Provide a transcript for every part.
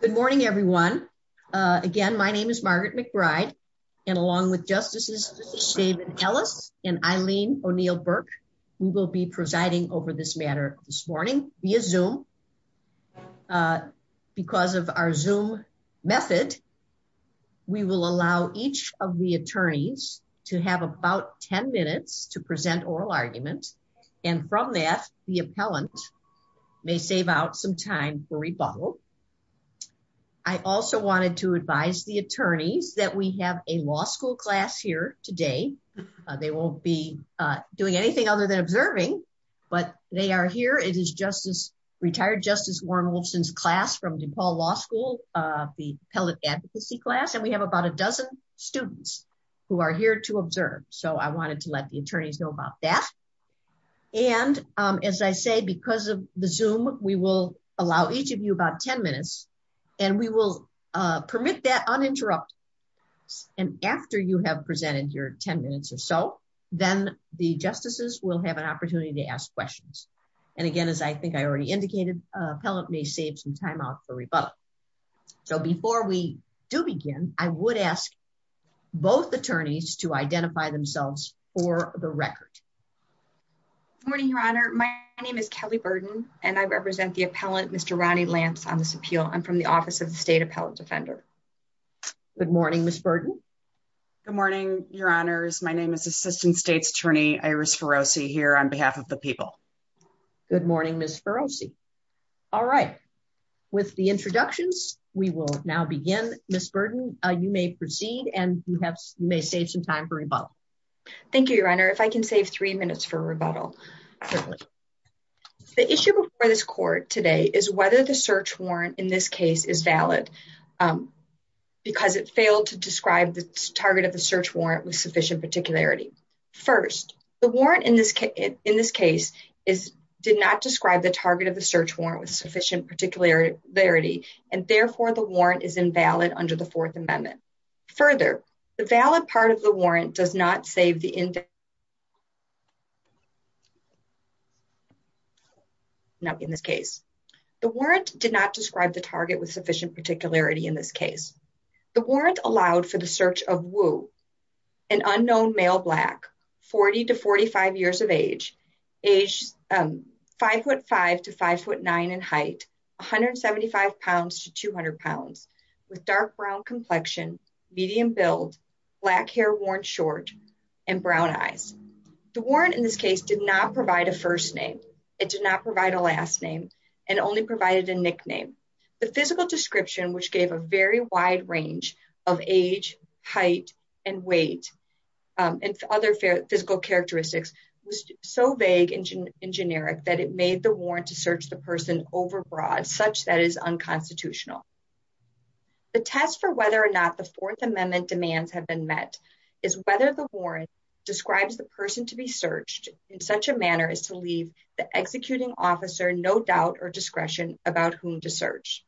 Good morning, everyone. Again, my name is Margaret McBride, and along with Justices David Ellis and Eileen O'Neill Burke, we will be presiding over this matter this morning via Zoom. Because of our Zoom method, we will allow each of the attorneys to have about 10 minutes to present oral arguments. And from that, the appellant may save out some time for rebuttal. I also wanted to advise the attorney that we have a law school class here today. They won't be doing anything other than observing, but they are here. It is retired Justice Warren Wolfson's class from DePaul Law School, the appellate advocacy class. And we have about a dozen students who are here to observe. So I wanted to let the attorneys know about that. And as I say, because of the Zoom, we will allow each of you about 10 minutes and we will permit that uninterrupted. And after you have presented your 10 minutes or so, then the justices will have an opportunity to ask questions. And again, as I think I already indicated, appellant may save some time off for rebuttal. So before we do begin, I would ask both attorneys to identify themselves for the record. Good morning, Your Honor. My name is Kelly Burden, and I represent the appellant, Mr. Ronnie Lance, on this appeal. I'm from the Office of the State Appellant Defender. Good morning, Ms. Burden. Good morning, Your Honors. My name is Assistant State's Attorney Iris Ferozzi here on behalf of the people. Good morning, Ms. Ferozzi. All right. With the introductions, we will now begin. Ms. Burden, you may proceed and you may save some time for rebuttal. Thank you, Your Honor. If I can save three minutes for rebuttal. The issue before this court today is whether the search warrant in this case is valid, because it failed to describe the target of the search warrant with sufficient particularity. First, the warrant in this case did not describe the target of the search warrant with sufficient particularity, and therefore the warrant is invalid under the Fourth Amendment. Further, the valid part of the warrant does not save the invalid part of the search warrant with sufficient particularity in this case. The warrant did not describe the target with sufficient particularity in this case. The warrant allowed for the search of Wu, an unknown male black, 40 to 45 years of age, age 5'5 to 5'9 in height, 175 pounds to 200 pounds, with dark brown complexion, medium build, black hair worn short, and brown eyes. The warrant in this case did not provide a first name. It did not provide a last name. It only provided a nickname. The physical description, which gave a very wide range of age, height, and weight, and other physical characteristics, was so vague and generic that it made the warrant to search the person overbroad, such that it is unconstitutional. The test for whether or not the Fourth Amendment demands have been met is whether the warrant describes the person to be searched in such a manner as to leave the executing officer no doubt or discretion about whom to search.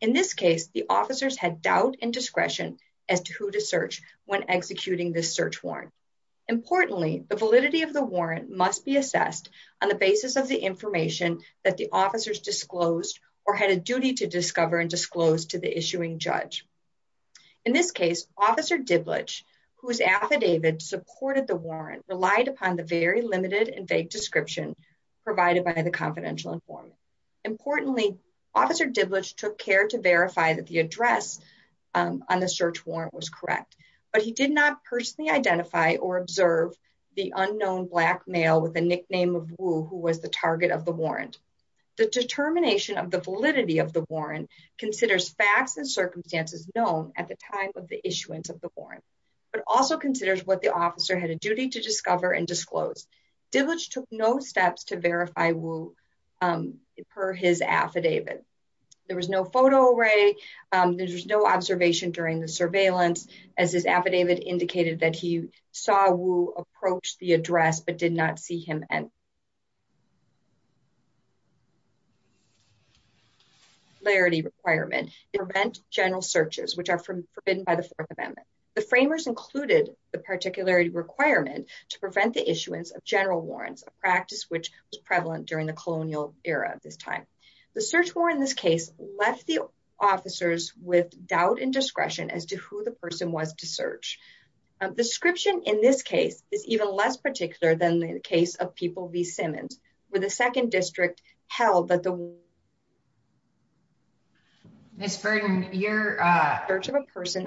In this case, the officers had doubt and discretion as to who to search when executing this search warrant. Importantly, the validity of the warrant must be assessed on the basis of the information that the officers disclosed or had a duty to discover and disclose to the issuing judge. In this case, Officer Diblicz, who was affidavit, supported the warrant, relied upon the very limited and vague description provided by the confidential informant. Importantly, Officer Diblicz took care to verify that the address on the search warrant was correct, but he did not personally identify or observe the unknown black male with a nickname of Wu who was the target of the warrant. The determination of the validity of the warrant considers facts and circumstances known at the time of the issuance of the warrant, but also considers what the officer had a duty to discover and disclose. Diblicz took no steps to verify Wu per his affidavit. There was no photo array, there was no observation during the surveillance, as his affidavit indicated that he saw Wu approach the address but did not see him anywhere. The particularity requirements prevent general searches, which are forbidden by the Fourth Amendment. The framers included the particularity requirement to prevent the issuance of general warrants, a practice which was prevalent during the colonial era at this time. The search warrant in this case left the officers with doubt and discretion as to who the person was to search. The description in this case is even less particular than the case of People v. Simmons, where the second district held that the... Ms. Bergman, your... Search of a person...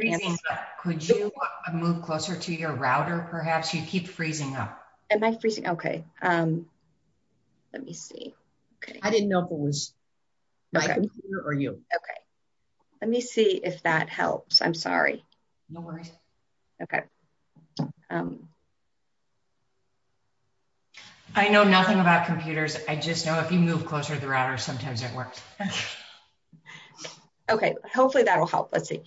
Could you move closer to your router, perhaps? You keep freezing up. Am I freezing? Okay. Let me see. I didn't know who was... Right. ...you. Okay. Let me see if that helps. I'm sorry. No worries. Okay. I know nothing about computers. I just know if you move closer to the router, sometimes it works. Okay. Hopefully that will help. Let's see.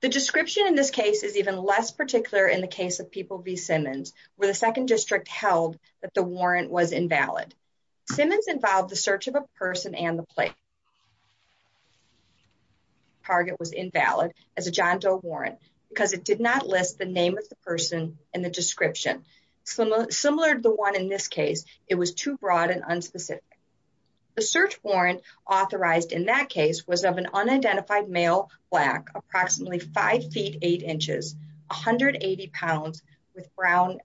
The description in this case is even less particular than the case of People v. Simmons, where the second district held that the warrant was invalid. Simmons involved the search of a person and the place. The target was invalid as a John Doe warrant because it did not list the name of the person in the description. Similar to the one in this case, it was too broad and unspecific. The search warrant authorized in that case was of an unidentified male, black, approximately 5 feet 8 inches, 180 pounds, with brown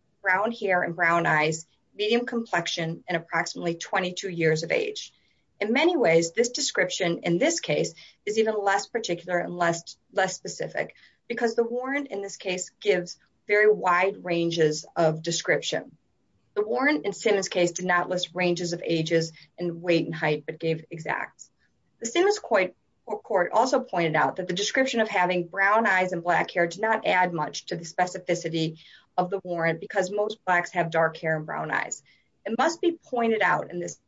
hair and brown eyes, medium complexion, and approximately 22 years of age. In many ways, this description in this case is even less particular and less specific because the warrant in this case gives very wide ranges of description. The warrant in Simmons' case did not list ranges of ages and weight and height, but gave exact. The Simmons court also pointed out that the description of having brown eyes and black hair did not add much to the specificity of the warrant because most blacks have dark hair and brown eyes. It must be pointed out in this case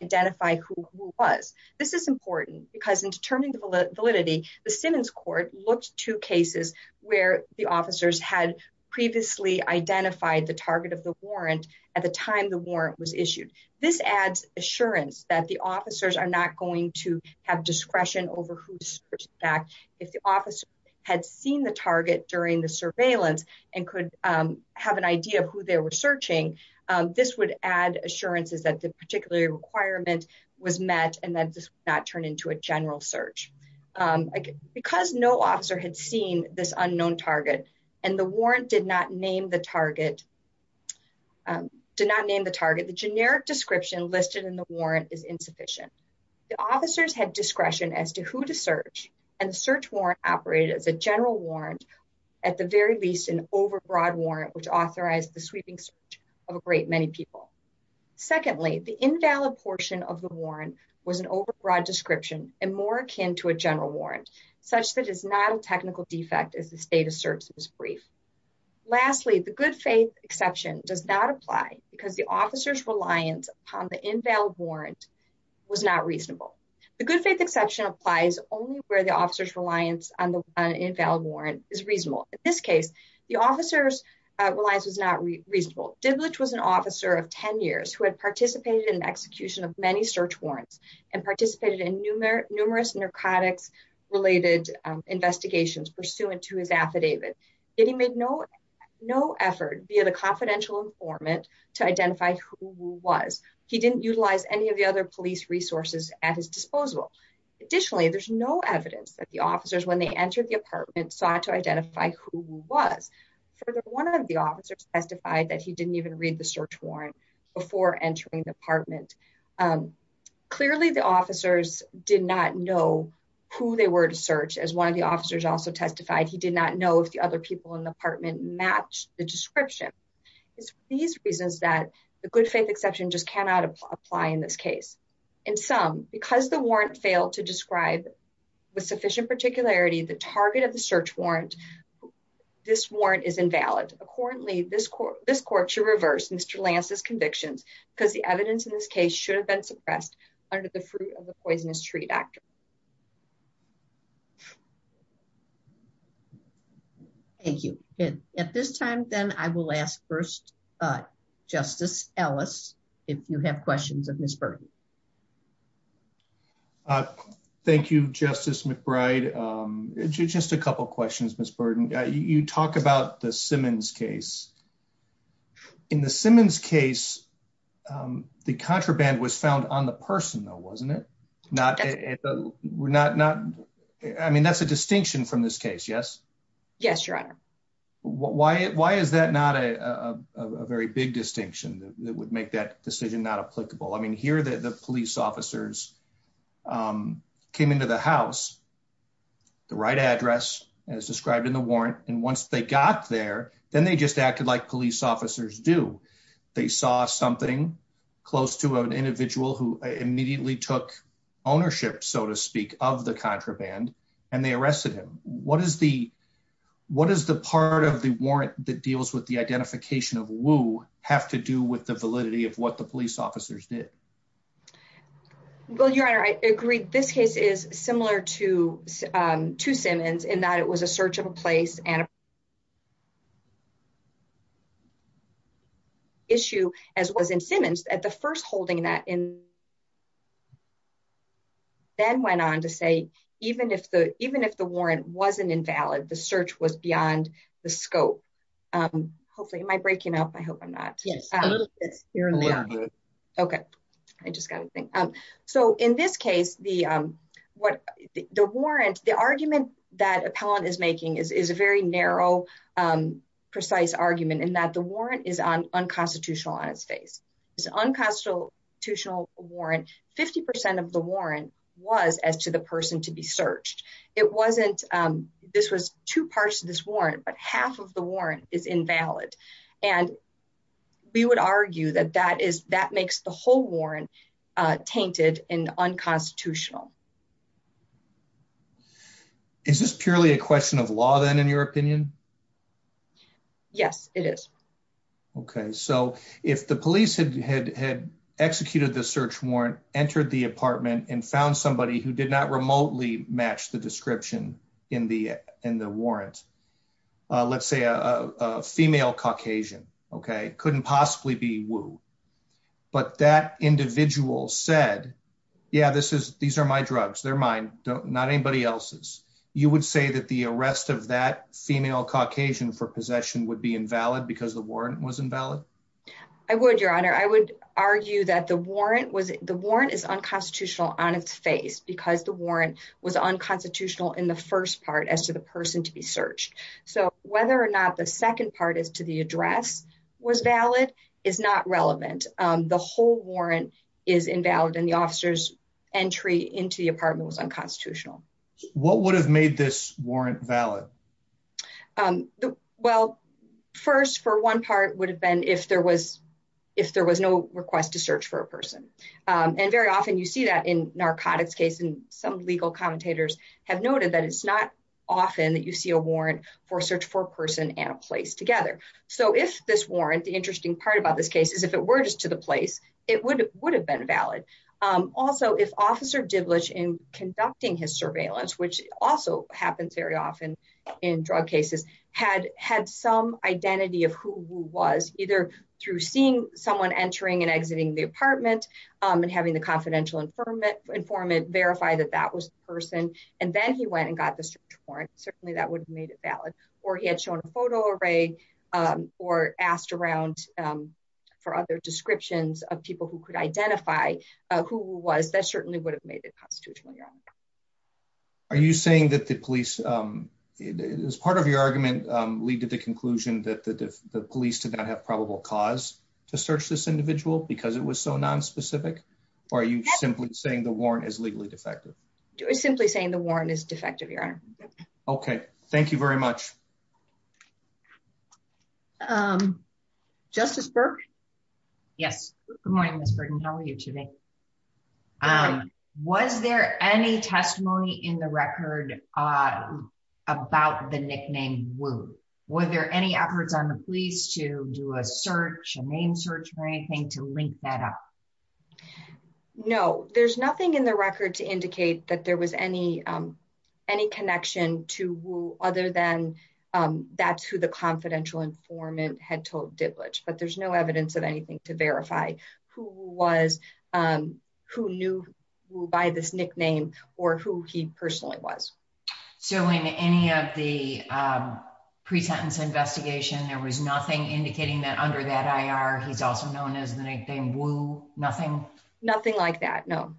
to identify who it was. This is important because in determining the validity, the Simmons court looked to cases where the officers had previously identified the target of the warrant at the time the warrant was issued. This adds assurance that the officers are not going to have discretion over whose search in fact, if the officer had seen the target during the surveillance and could have an idea of who they were searching, this would add assurances that the particular requirement was met and that this would not turn into a general search. Because no officer had seen this unknown target and the warrant did not name the target, the generic description listed in the warrant is insufficient. The officers had discretion as to who to search and the search warrant operated as a general warrant, at the very least an overbroad warrant, which authorized the sweeping search of a great many people. Secondly, the invalid portion of the warrant was an overbroad description and more akin to a general warrant, such that it is not a technical defect as the state of service is brief. Lastly, the good faith exception does not apply because the officers' reliance upon the invalid warrant was not reasonable. The good faith exception applies only where the officers' reliance on the invalid warrant is reasonable. In this case, the officers' reliance was not reasonable. Diblich was an officer of 10 years who had participated in the execution of many search warrants and participated in numerous narcotics-related investigations pursuant to his affidavit. Yet he made no effort via the confidential informant to identify who he was. He didn't utilize any of the other police resources at his disposal. Additionally, there's no evidence that the officers, when they entered the apartment, sought to identify who he was. Further, one of the officers testified that he didn't even read the search warrant before entering the apartment. Clearly, the officers did not know who they were to search. As one of the officers also testified, he did not know if the other people in the apartment matched the description. It's for these reasons that the good faith exception just cannot apply in this case. In sum, because the warrant failed to describe with sufficient particularity the target of the search warrant, this warrant is invalid. Accordingly, this court should reverse Mr. Lance's convictions because the evidence in this case should have been suppressed under the fruit-of-the-poisonous-tree factor. Thank you. At this time, then, I will ask first Justice Ellis if you have questions of Ms. Burden. Thank you, Justice McBride. Just a couple questions, Ms. Burden. You talk about the Simmons case. In the Simmons case, the contraband was found on the person, though, wasn't it? I mean, that's a distinction from this case, yes? Yes, Your Honor. Why is that not a very big distinction that would make that decision not applicable? I mean, here, the police officers came into the house, the right address as described in the warrant, and once they got there, then they just acted like police officers do. They saw something close to an individual who immediately took ownership, so to speak, of the contraband, and they arrested him. What is the part of the warrant that deals with the identification of Woo have to do with the validity of what the police officers did? Well, Your Honor, I agree. This case is similar to Simmons in that it was a search of a place and issue, as was in Simmons. At the first holding, that then went on to say even if the warrant wasn't invalid, the search was beyond the scope. Hopefully, am I breaking up? I hope I'm not. Yes, a little bit, Your Honor. Okay. I just got to think. So in this case, the warrant, the argument that appellant is making is a very narrow, precise argument, in that the warrant is unconstitutional on its face. It's an unconstitutional warrant. Fifty percent of the warrant was as to the person to be searched. It wasn't this was two parts of this warrant, but half of the warrant is invalid, and we would argue that that makes the whole warrant tainted and unconstitutional. Is this purely a question of law, then, in your opinion? Yes, it is. Okay. So if the police had executed the search warrant, entered the apartment, and found somebody who did not remotely match the description in the warrant, let's say a female Caucasian, okay, couldn't possibly be Wu, but that individual said, yeah, these are my drugs, they're mine, not anybody else's, you would say that the arrest of that female Caucasian for possession would be invalid because the warrant was invalid? I would, Your Honor. I would argue that the warrant is unconstitutional on its face, because the warrant was unconstitutional in the first part as to the person to be searched. So whether or not the second part as to the address was valid is not relevant. The whole warrant is invalid, and the officer's entry into the apartment was unconstitutional. What would have made this warrant valid? Well, first, for one part, it would have been if there was no request to search for a person. And very often you see that in narcotics cases, and some legal commentators have noted that it's not often that you see a warrant for a search for a person and a place together. So if this warrant, the interesting part about this case is if it were just to the place, it would have been valid. Also, if Officer Diblish, in conducting his surveillance, which also happens very often in drug cases, had some identity of who he was, either through seeing someone entering and exiting the apartment and having the confidential informant verify that that was the person, and then he went and got the search warrant, certainly that would have made it valid. Or he had shown a photo array or asked around for other descriptions of people who could identify who he was. That certainly would have made it constitutional. Are you saying that the police, as part of your argument, we did the conclusion that the police did not have probable cause to search this individual because it was so nonspecific? Or are you simply saying the warrant is legally defective? Okay. Thank you very much. Justice Burke? Yes. Good morning, Ms. Burton. How are you today? Good. Was there any testimony in the record about the nickname Wu? Were there any efforts on the police to do a search, a name search or anything to link that up? No. There's nothing in the record to indicate that there was any connection to Wu, other than that's who the confidential informant had told Dibletch. But there's no evidence of anything to verify who Wu was, who knew Wu by this nickname, or who he personally was. So in any of the pre-sentence investigation, there was nothing indicating that under that IR, he's also known as the nickname Wu, nothing? Nothing like that, no.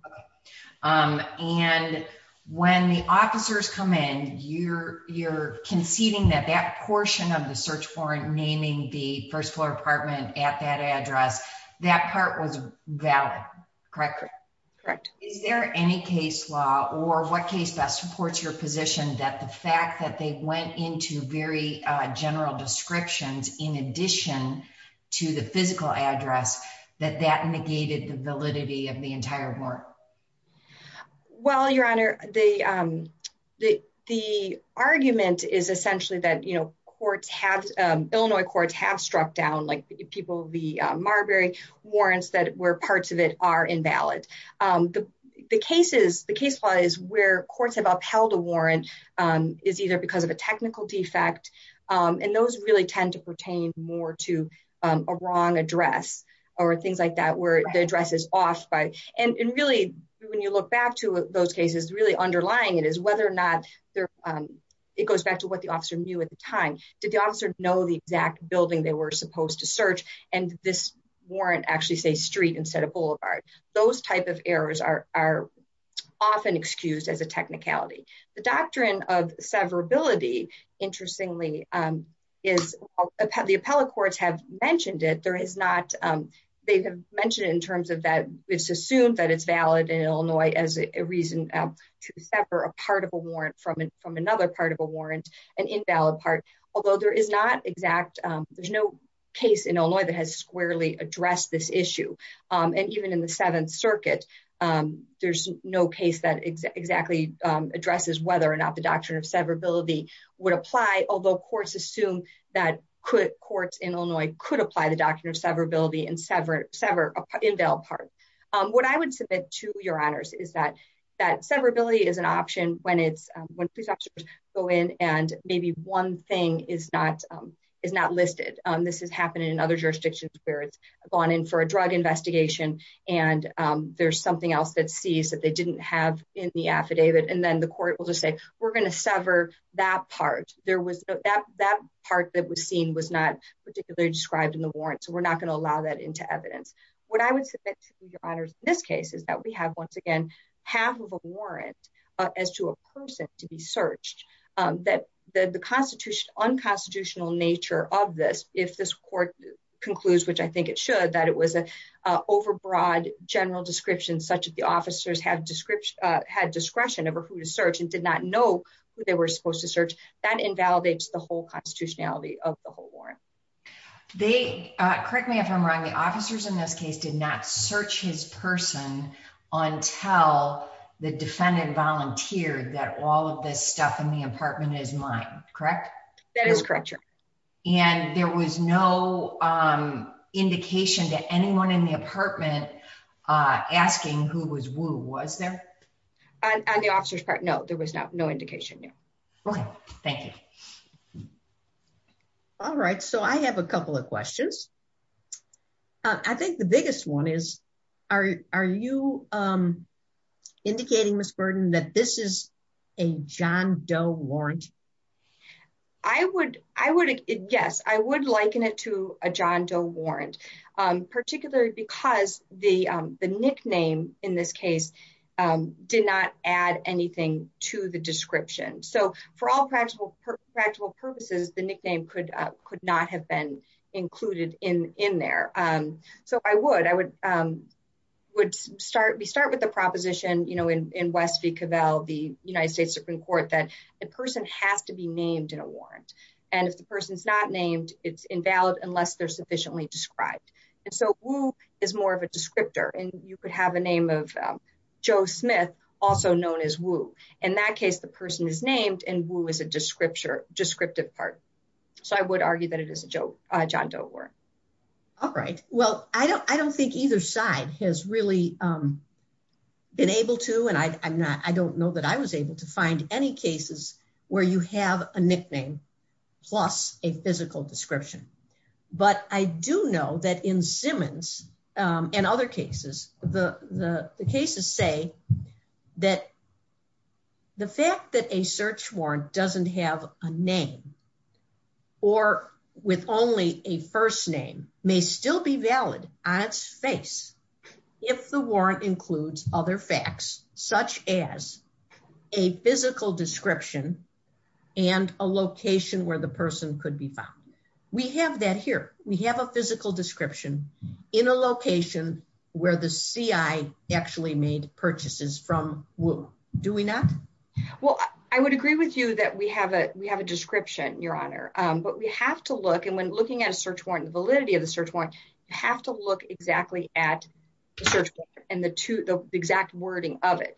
And when the officers come in, you're conceding that that portion of the search warrant, naming the first floor apartment at that address, that part was valid, correct? Correct. Is there any case law or what case that supports your position that the fact that they went into very general descriptions, in addition to the physical address, that that negated the validity of the entire work? Well, Your Honor, the argument is essentially that, you know, courts have, Illinois courts have struck down, like people, the Marbury warrants where parts of it are invalid. The case is, the case law is where courts have upheld a warrant, is either because of a technical defect, and those really tend to pertain more to a wrong address, or things like that where the address is off by, and really, when you look back to those cases, really underlying it is whether or not, it goes back to what the officer knew at the time. Did the officer know the exact building they were supposed to search, and this warrant actually say street instead of boulevard? Those type of errors are often excused as a technicality. The doctrine of severability, interestingly, is, the appellate courts have mentioned it. There is not, they have mentioned it in terms of that, it's assumed that it's valid in Illinois as a reason to separate a part of a warrant from another part of a warrant, an invalid part, although there is not exact, there's no case in Illinois that has squarely addressed this issue. And even in the Seventh Circuit, there's no case that exactly addresses whether or not the doctrine of severability would apply, although courts assume that courts in Illinois could apply the doctrine of severability and sever an invalid part. What I would submit to your honors is that, that severability is an option when it's, when prosecutors go in and maybe one thing is not, is not listed. This has happened in other jurisdictions where it's gone in for a drug investigation, and there's something else that sees that they didn't have in the affidavit, and then the court will just say, we're going to sever that part. There was that part that was seen was not particularly described in the warrant, so we're not going to allow that into evidence. What I would submit to your honors in this case is that we have, once again, half of a warrant as to a person to be searched. The unconstitutional nature of this, if this court concludes, which I think it should, that it was an overbroad general description such that the officers had discretion over who to search and did not know who they were supposed to search, that invalidates the whole constitutionality of the whole warrant. Correct me if I'm wrong, the officers in this case did not search his person until the defendant volunteered that all of this stuff in the apartment is mine, correct? That is correct, sure. And there was no indication to anyone in the apartment asking who was who, was there? On the officer's part, no, there was no indication, no. Okay, thank you. All right, so I have a couple of questions. I think the biggest one is, are you indicating, Ms. Burton, that this is a John Doe warrant? Yes, I would liken it to a John Doe warrant, particularly because the nickname in this case did not add anything to the description. So for all practical purposes, the nickname could not have been included in there. So I would. We start with the proposition in West v. Cavell, the United States Supreme Court, that the person has to be named in a warrant. And if the person's not named, it's invalid unless they're sufficiently described. And so who is more of a descriptor, and you could have a name of Joe Smith, also known as who. In that case, the person is named, and who is a descriptive part. So I would argue that it is a John Doe warrant. All right. Well, I don't think either side has really been able to, and I don't know that I was able to find any cases where you have a nickname plus a physical description. But I do know that in Simmons and other cases, the cases say that the fact that a search warrant doesn't have a name or with only a first name may still be valid on its face if the warrant includes other facts, such as a physical description and a location where the person could be found. We have that here. We have a physical description in a location where the CI actually made purchases from who. Do we not? Well, I would agree with you that we have a description, Your Honor. But we have to look, and when looking at a search warrant, the validity of the search warrant, you have to look exactly at the search warrant and the exact wording of it.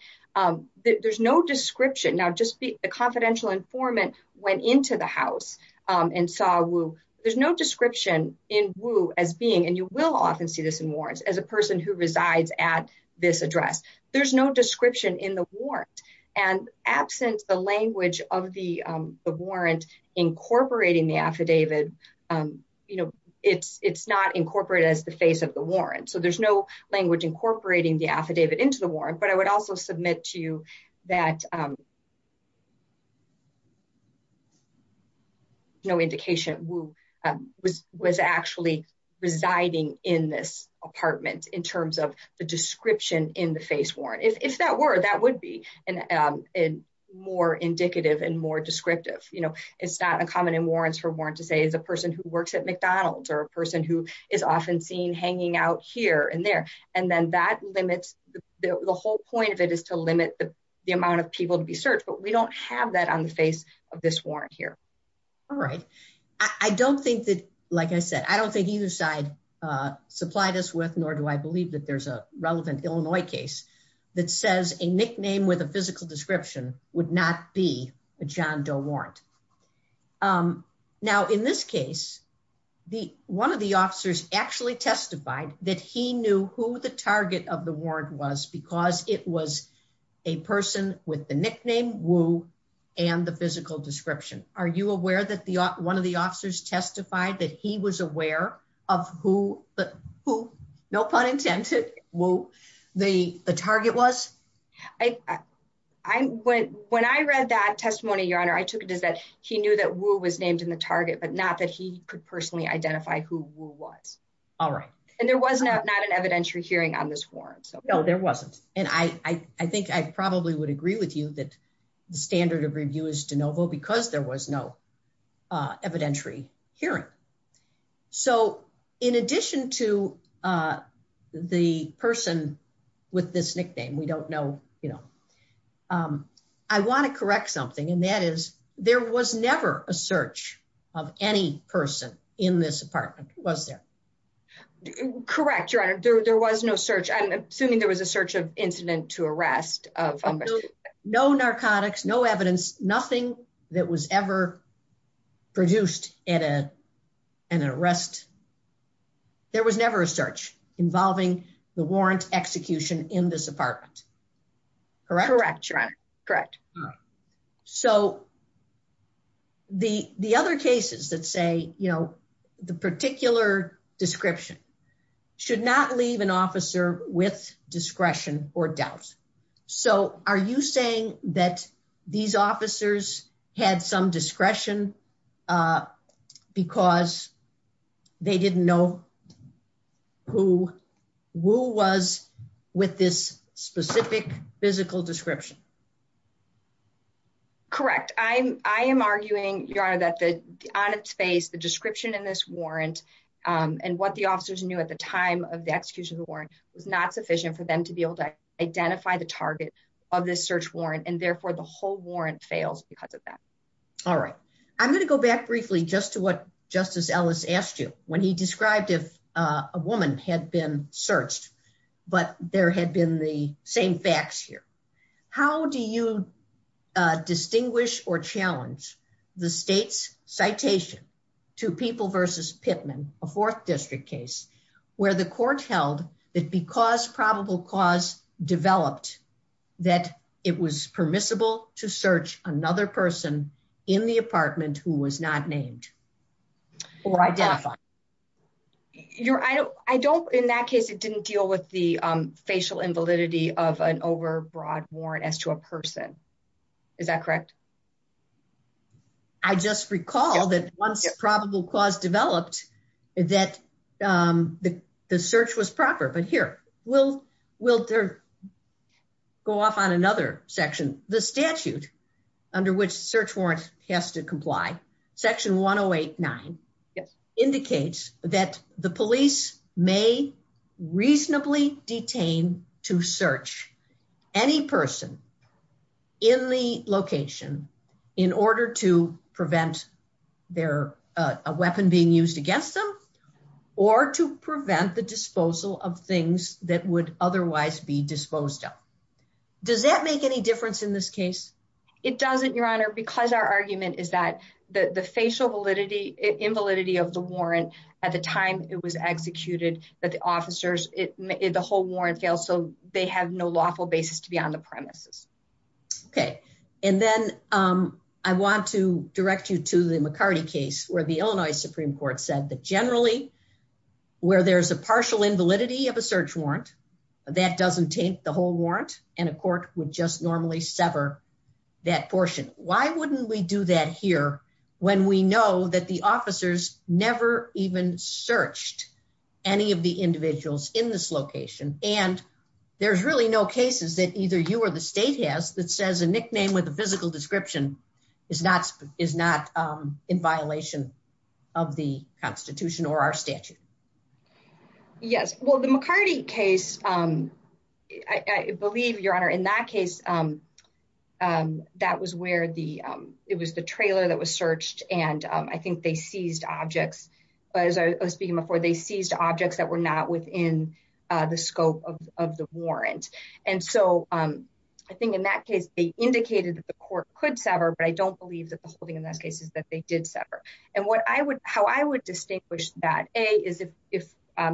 There's no description. Now, the confidential informant went into the house and saw who. There's no description in who as being, and you will often see this in warrants, as a person who resides at this address. There's no description in the warrant. And absent the language of the warrant incorporating the affidavit, it's not incorporated as the face of the warrant. So there's no language incorporating the affidavit into the warrant. But I would also submit to you that no indication who was actually residing in this apartment in terms of the description in the face warrant. If that were, that would be more indicative and more descriptive. You know, it's not uncommon in warrants for warrants to say the person who works at McDonald's or a person who is often seen hanging out here and there. And then that limits the whole point of it is to limit the amount of people to be searched. But we don't have that on the face of this warrant here. All right. I don't think that, like I said, I don't think either side supplied us with, nor do I believe that there's a relevant Illinois case that says a nickname with a physical description would not be a John Doe warrant. Now, in this case, one of the officers actually testified that he knew who the target of the warrant was because it was a person with the nickname Woo and the physical description. Are you aware that one of the officers testified that he was aware of who, no pun intended, who the target was? When I read that testimony, Your Honor, I took it as that he knew that Woo was named in the target, but not that he could personally identify who Woo was. All right. And there was not an evidentiary hearing on this warrant. No, there wasn't. And I think I probably would agree with you that the standard of review is de novo because there was no evidentiary hearing. So, in addition to the person with this nickname, we don't know, you know, I want to correct something, and that is there was never a search of any person in this apartment, was there? Correct, Your Honor. There was no search. I'm assuming there was a search of incident to arrest. No narcotics, no evidence, nothing that was ever produced in an arrest. There was never a search involving the warrant execution in this apartment. Correct? Correct, Your Honor. Correct. So, the other cases that say, you know, the particular description should not leave an officer with discretion or doubt. So, are you saying that these officers had some discretion because they didn't know who Woo was with this specific physical description? Correct. Correct. I am arguing, Your Honor, that on its face, the description in this warrant and what the officers knew at the time of the execution of the warrant was not sufficient for them to be able to identify the target of this search warrant, and therefore the whole warrant fails because of that. All right. I'm going to go back briefly just to what Justice Ellis asked you when he described if a woman had been searched, but there had been the same facts here. How do you distinguish or challenge the state's citation to People v. Pittman, a 4th District case, where the court held that because probable cause developed that it was permissible to search another person in the apartment who was not named or identified? I don't, in that case, it didn't deal with the facial invalidity of an overbroad warrant as to a person. Is that correct? I just recall that once probable cause developed that the search was proper. But here, we'll go off on another section. The statute under which the search warrant has to comply, Section 108.9, indicates that the police may reasonably detain to search any person in the location in order to prevent a weapon being used against them or to prevent the disposal of things that would otherwise be disposed of. Does that make any difference in this case? It doesn't, Your Honor, because our argument is that the facial invalidity of the warrant at the time it was executed, that the officers, the whole warrant failed, so they have no lawful basis to be on the premises. Okay, and then I want to direct you to the McCarty case, where the Illinois Supreme Court said that generally, where there's a partial invalidity of a search warrant, that doesn't take the whole warrant, and a court would just normally sever that portion. Why wouldn't we do that here when we know that the officers never even searched any of the individuals in this location, and there's really no cases that either you or the state has that says a nickname with a physical description is not in violation of the Constitution or our statute? Yes, well, the McCarty case, I believe, Your Honor, in that case, that was where it was the trailer that was searched, and I think they seized objects. As I was speaking before, they seized objects that were not within the scope of the warrant, and so I think in that case, they indicated that the court could sever, but I don't believe that the holding in that case is that they did sever. And how I would distinguish that, A, is if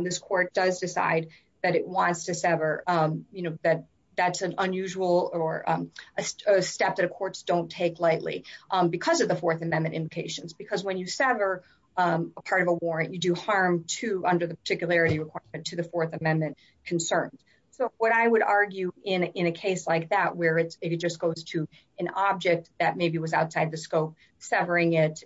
this court does decide that it wants to sever, that that's an unusual or a step that courts don't take lightly because of the Fourth Amendment indications, because when you sever a part of a warrant, you do harm under the particularity requirement to the Fourth Amendment concerns. So what I would argue in a case like that where it just goes to an object that maybe was outside the scope, severing it,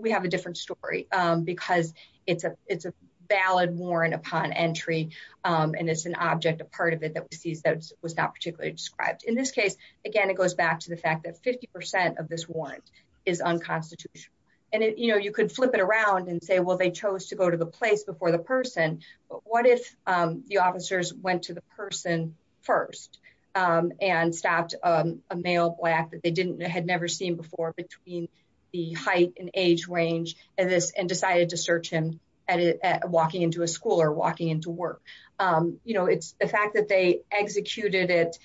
we have a different story, because it's a valid warrant upon entry, and it's an object, a part of it that was seized that was not particularly described. In this case, again, it goes back to the fact that 50% of this warrant is unconstitutional, and you could flip it around and say, well, they chose to go to the place before the person, but what if the officers went to the person first and stopped a male black that they had never seen before between the height and age range and decided to search him walking into a school or walking into work? It's the fact that they executed it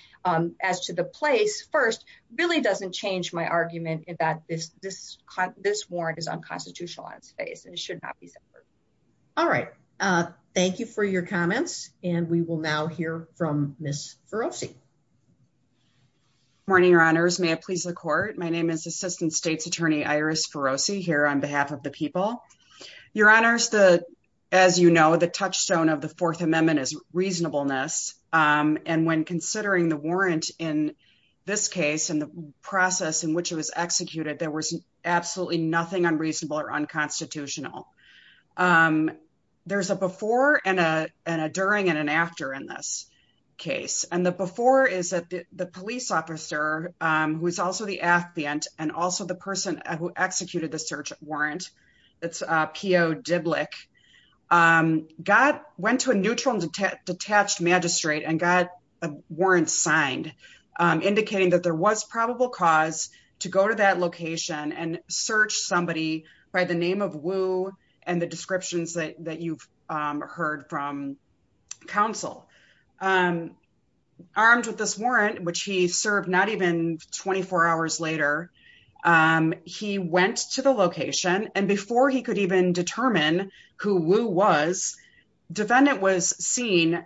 as to the place first really doesn't change my argument that this warrant is unconstitutionalized, and it should not be severed. All right. Thank you for your comments. And we will now hear from Ms. Ferrosi. Good morning, Your Honors. May it please the court. My name is Assistant State's Attorney Iris Ferrosi here on behalf of the people. Your Honors, as you know, the touchstone of the Fourth Amendment is reasonableness, and when considering the warrant in this case and the process in which it was executed, there was absolutely nothing unreasonable or unconstitutional. There's a before and a during and an after in this case, and the before is that the police officer, who is also the affiant and also the person who executed the search warrant, it's P.O. Diblik, went to a neutral and detached magistrate and got a warrant signed indicating that there was probable cause to go to that location and search somebody by the name of Wu and the descriptions that you've heard from counsel. Armed with this warrant, which he served not even 24 hours later, he went to the location, and before he could even determine who Wu was, defendant was seen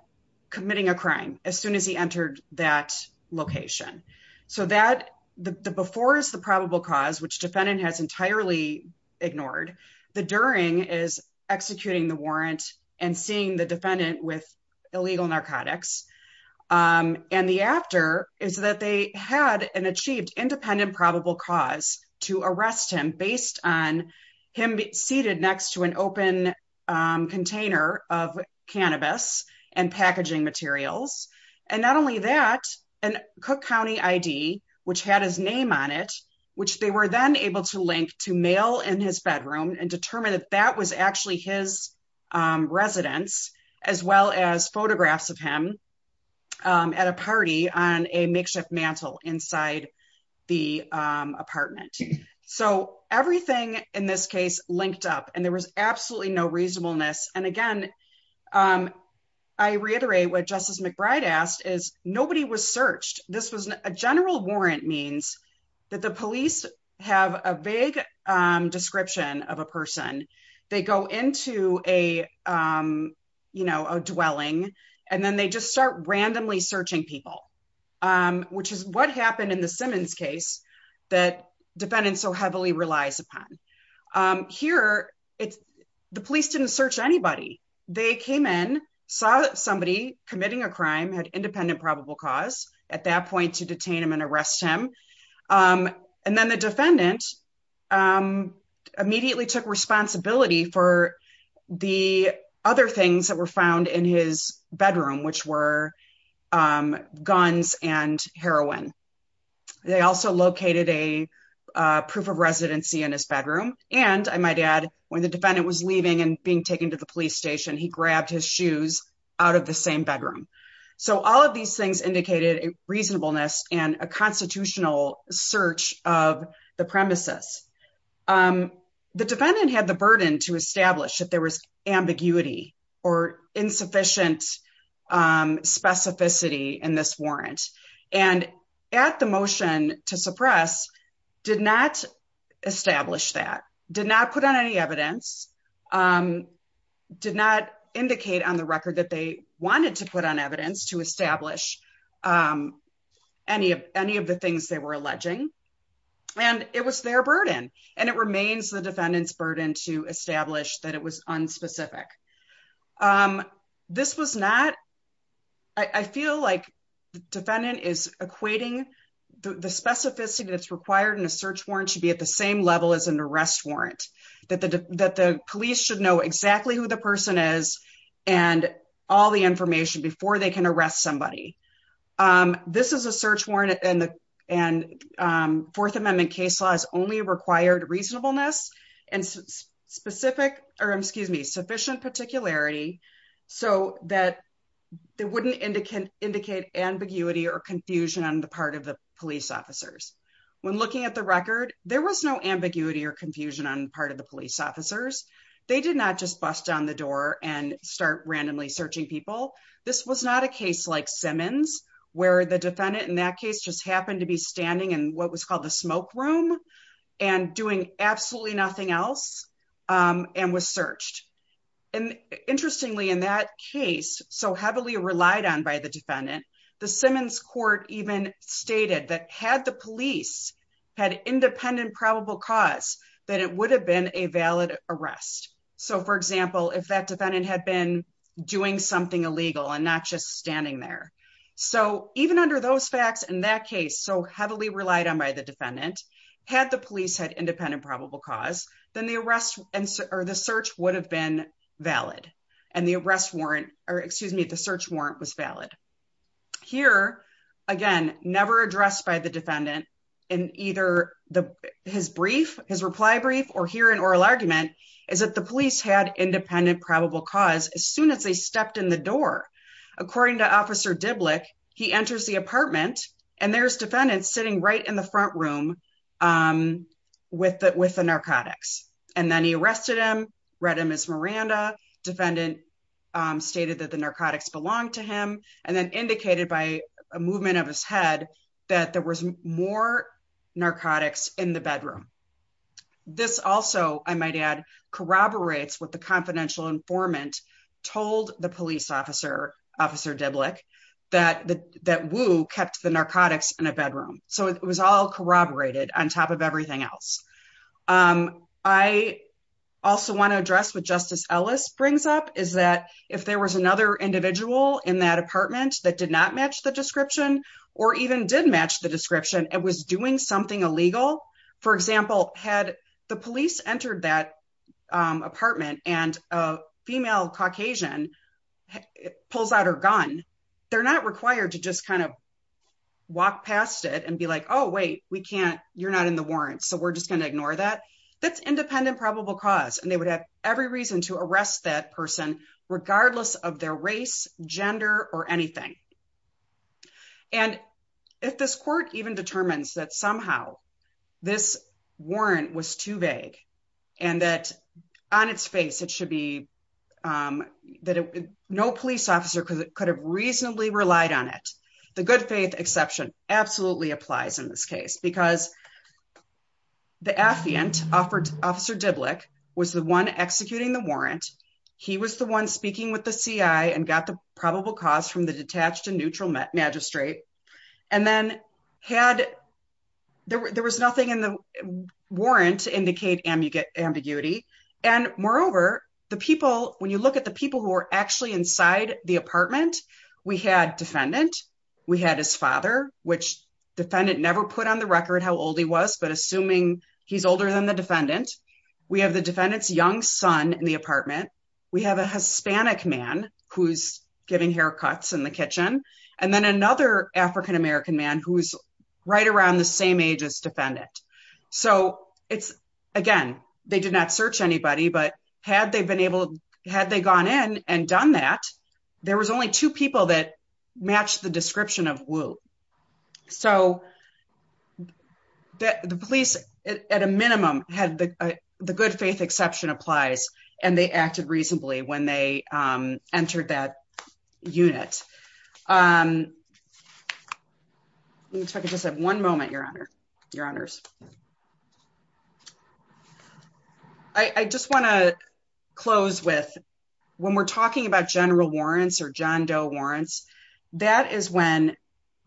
committing a crime as soon as he entered that location. The before is the probable cause, which defendant has entirely ignored. The during is executing the warrant and seeing the defendant with illegal narcotics, and the after is that they had an achieved independent probable cause to arrest him based on him seated next to an open container of cannabis and packaging materials. And not only that, and Cook County ID, which had his name on it, which they were then able to link to mail in his bedroom and determine if that was actually his residence, as well as photographs of him at a party on a makeshift mantel inside the apartment. So everything in this case linked up and there was absolutely no reasonableness. And again, I reiterate what Justice McBride asked is nobody was searched. This was a general warrant means that the police have a vague description of a person. They go into a, you know, a dwelling, and then they just start randomly searching people, which is what happened in the Simmons case that defendant so heavily relies upon. Here, the police didn't search anybody. They came in, saw somebody committing a crime, had independent probable cause at that point to detain him and arrest him. And then the defendant immediately took responsibility for the other things that were found in his bedroom, which were guns and heroin. They also located a proof of residency in his bedroom. And I might add, when the defendant was leaving and being taken to the police station, he grabbed his shoes out of the same bedroom. So all of these things indicated reasonableness and a constitutional search of the premises. The defendant had the burden to establish that there was ambiguity or insufficient specificity in this warrant. And at the motion to suppress, did not establish that, did not put on any evidence, did not indicate on the record that they wanted to put on evidence to establish any of the things they were alleging. And it was their burden, and it remains the defendant's burden to establish that it was unspecific. This was not, I feel like the defendant is equating the specificity that's required in a search warrant should be at the same level as an arrest warrant. That the police should know exactly who the person is and all the information before they can arrest somebody. This is a search warrant and Fourth Amendment case law has only required reasonableness and sufficient particularity so that it wouldn't indicate ambiguity or confusion on the part of the police officers. When looking at the record, there was no ambiguity or confusion on part of the police officers. They did not just bust down the door and start randomly searching people. This was not a case like Simmons where the defendant in that case just happened to be standing in what was called the smoke room and doing absolutely nothing else and was searched. And interestingly, in that case, so heavily relied on by the defendant, the Simmons court even stated that had the police had independent probable cause that it would have been a valid arrest. So, for example, if that defendant had been doing something illegal and not just standing there. So even under those facts in that case, so heavily relied on by the defendant, had the police had independent probable cause, then the search would have been valid and the arrest warrant, or excuse me, the search warrant was valid. Here, again, never addressed by the defendant in either his reply brief or here in oral argument, is that the police had independent probable cause as soon as they stepped in the door. According to Officer Diblick, he enters the apartment and there's defendant sitting right in the front room with the narcotics and then he arrested him, read him as Miranda, defendant stated that the narcotics belong to him, and then indicated by a movement of his head that there was more narcotics in the bedroom. This also, I might add, corroborates what the confidential informant told the police officer, Officer Diblick, that Wu kept the narcotics in a bedroom. So it was all corroborated on top of everything else. I also want to address what Justice Ellis brings up is that if there was another individual in that apartment that did not match the description, or even did match the description, and was doing something illegal, for example, had the police entered that apartment and a female Caucasian pulls out her gun, they're not required to just kind of walk past it and be like, oh wait, we can't, you're not in the warrants, so we're just going to ignore that. That's independent probable cause, and they would have every reason to arrest that person, regardless of their race, gender, or anything. And if this court even determines that somehow this warrant was too vague, and that on its face it should be that no police officer could have reasonably relied on it, the good faith exception absolutely applies in this case because the assiant, Officer Diblick, was the one executing the warrant. He was the one speaking with the CI and got the probable cause from the detached and neutral magistrate. And then there was nothing in the warrant to indicate ambiguity. And moreover, when you look at the people who were actually inside the apartment, we had defendant, we had his father, which defendant never put on the record how old he was, but assuming he's older than the defendant, we have the defendant's young son in the apartment, we have a Hispanic man who's getting haircuts in the kitchen, and then another African American man who's right around the same age as defendant. So, again, they did not search anybody, but had they gone in and done that, there was only two people that matched the description of Wu. So, the police, at a minimum, had the good faith exception applies, and they acted reasonably when they entered that unit. One moment, Your Honor. I just want to close with, when we're talking about general warrants or John Doe warrants, that is when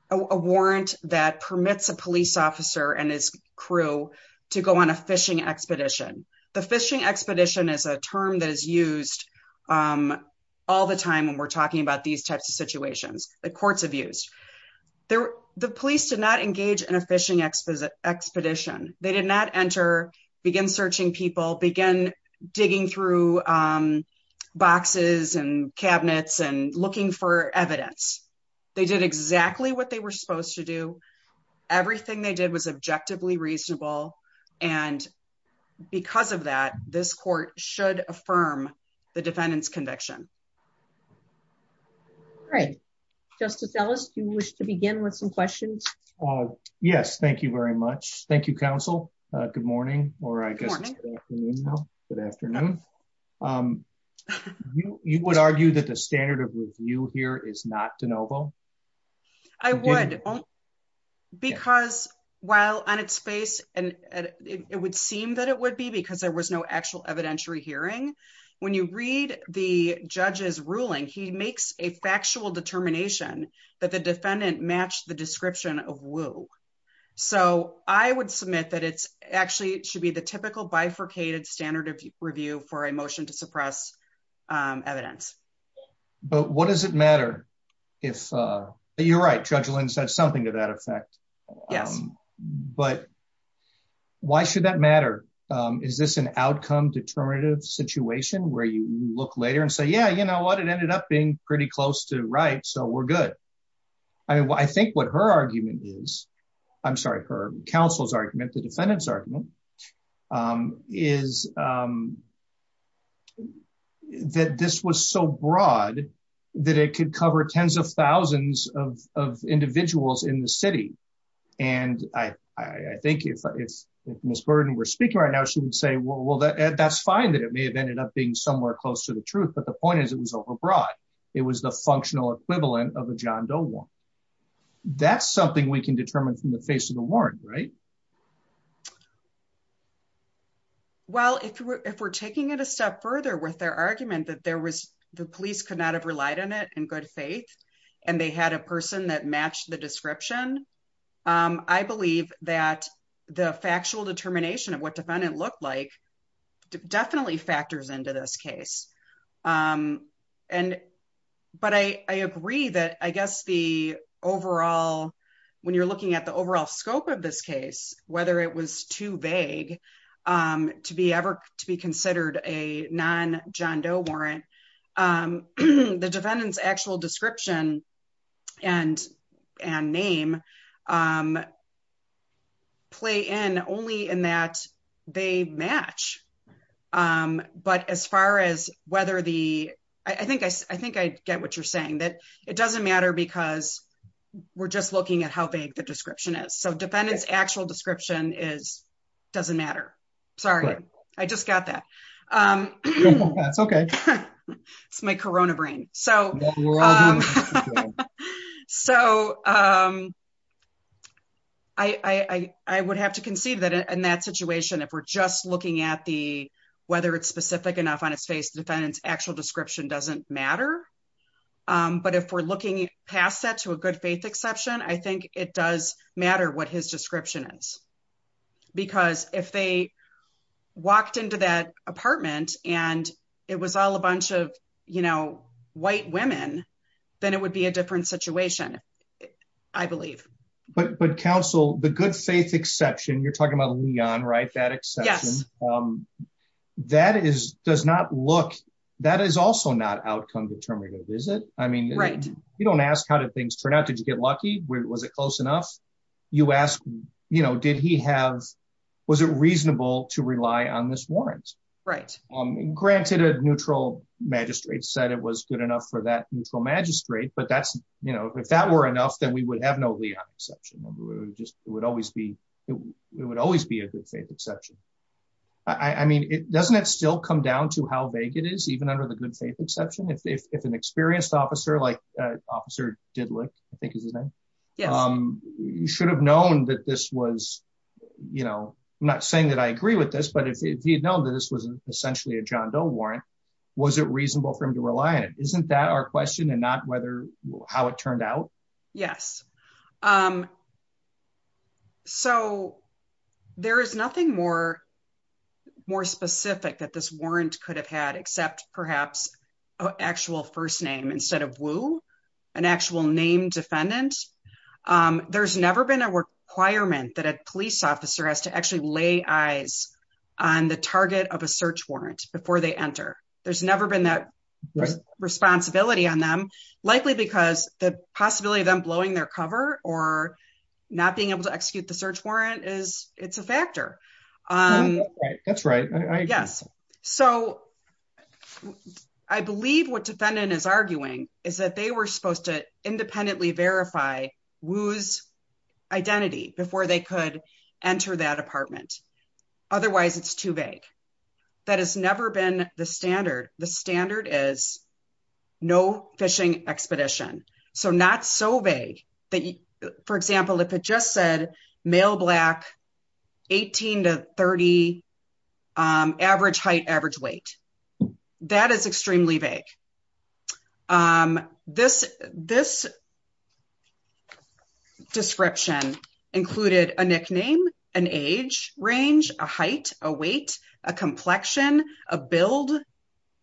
a warrant that permits a police officer and his crew to go on a fishing expedition. The fishing expedition is a term that is used all the time when we're talking about these types of situations, the courts have used. The police did not engage in a fishing expedition. They did not enter, begin searching people, begin digging through boxes and cabinets and looking for evidence. They did exactly what they were supposed to do. Everything they did was objectively reasonable, and because of that, this court should affirm the defendant's conviction. All right. Justice Ellis, do you wish to begin with some questions? Yes, thank you very much. Thank you, counsel. Good morning, or I guess good afternoon. You would argue that the standard of review here is not de novo? I would. Because while on its face, and it would seem that it would be because there was no actual evidentiary hearing, when you read the judge's ruling, he makes a factual determination that the defendant matched the description of woo. So I would submit that it actually should be the typical bifurcated standard of review for a motion to suppress evidence. But what does it matter if, you're right, Judge Williams has something to that effect. But why should that matter? Is this an outcome determinative situation where you look later and say, yeah, you know what, it ended up being pretty close to right, so we're good. I think what her argument is, I'm sorry, her counsel's argument, the defendant's argument, is that this was so broad that it could cover tens of thousands of individuals in the city. And I think if Ms. Burden were speaking right now, she would say, well, that's fine that it may have ended up being somewhere close to the truth, but the point is it was overbroad. It was the functional equivalent of a John Doe warrant. That's something we can determine from the face of the warrant, right? Well, if we're taking it a step further with their argument that the police could not have relied on it in good faith, and they had a person that matched the description, I believe that the factual determination of what the defendant looked like definitely factors into this case. But I agree that, I guess, when you're looking at the overall scope of this case, whether it was too vague to be considered a non-John Doe warrant, the defendant's actual description and name play in only in that they match. But as far as whether the, I think I get what you're saying, that it doesn't matter because we're just looking at how vague the description is. So defendant's actual description doesn't matter. Sorry, I just got that. It's my Corona brain. So I would have to concede that in that situation, if we're just looking at the, whether it's specific enough on a face, defendant's actual description doesn't matter. But if we're looking past that to a good faith exception, I think it does matter what his description is. Because if they walked into that apartment and it was all a bunch of, you know, white women, then it would be a different situation, I believe. But counsel, the good faith exception, you're talking about Leon, right? That exception, that is, does not look, that is also not outcome determinative, is it? I mean, you don't ask how did things turn out? Did you get lucky? Was it close enough? You ask, you know, did he have, was it reasonable to rely on this warrant? Right. Granted, a neutral magistrate said it was good enough for that neutral magistrate, but that's, you know, if that were enough, then we would have no Leon exception. It would always be a good faith exception. I mean, doesn't that still come down to how vague it is, even under the good faith exception? If an experienced officer, like Officer Didlett, I think is his name, should have known that this was, you know, I'm not saying that I agree with this, but if he had known that this was essentially a John Doe warrant, was it reasonable for him to rely on it? Isn't that our question and not whether, how it turned out? Yes. So there is nothing more, more specific that this warrant could have had except perhaps actual first name instead of Wu, an actual name defendant. There's never been a requirement that a police officer has to actually lay eyes on the target of a search warrant before they enter. There's never been that responsibility on them, likely because the possibility of them blowing their cover or not being able to execute the search warrant is, it's a factor. That's right. Yes. So I believe what defendant is arguing is that they were supposed to independently verify Wu's identity before they could enter that apartment. Otherwise, it's too vague. That has never been the standard. The standard is no fishing expedition. So not so vague that, for example, if it just said male, black, 18 to 30, average height, average weight, that is extremely vague. This, this description included a nickname, an age range, a height, a weight, a complexion, a build,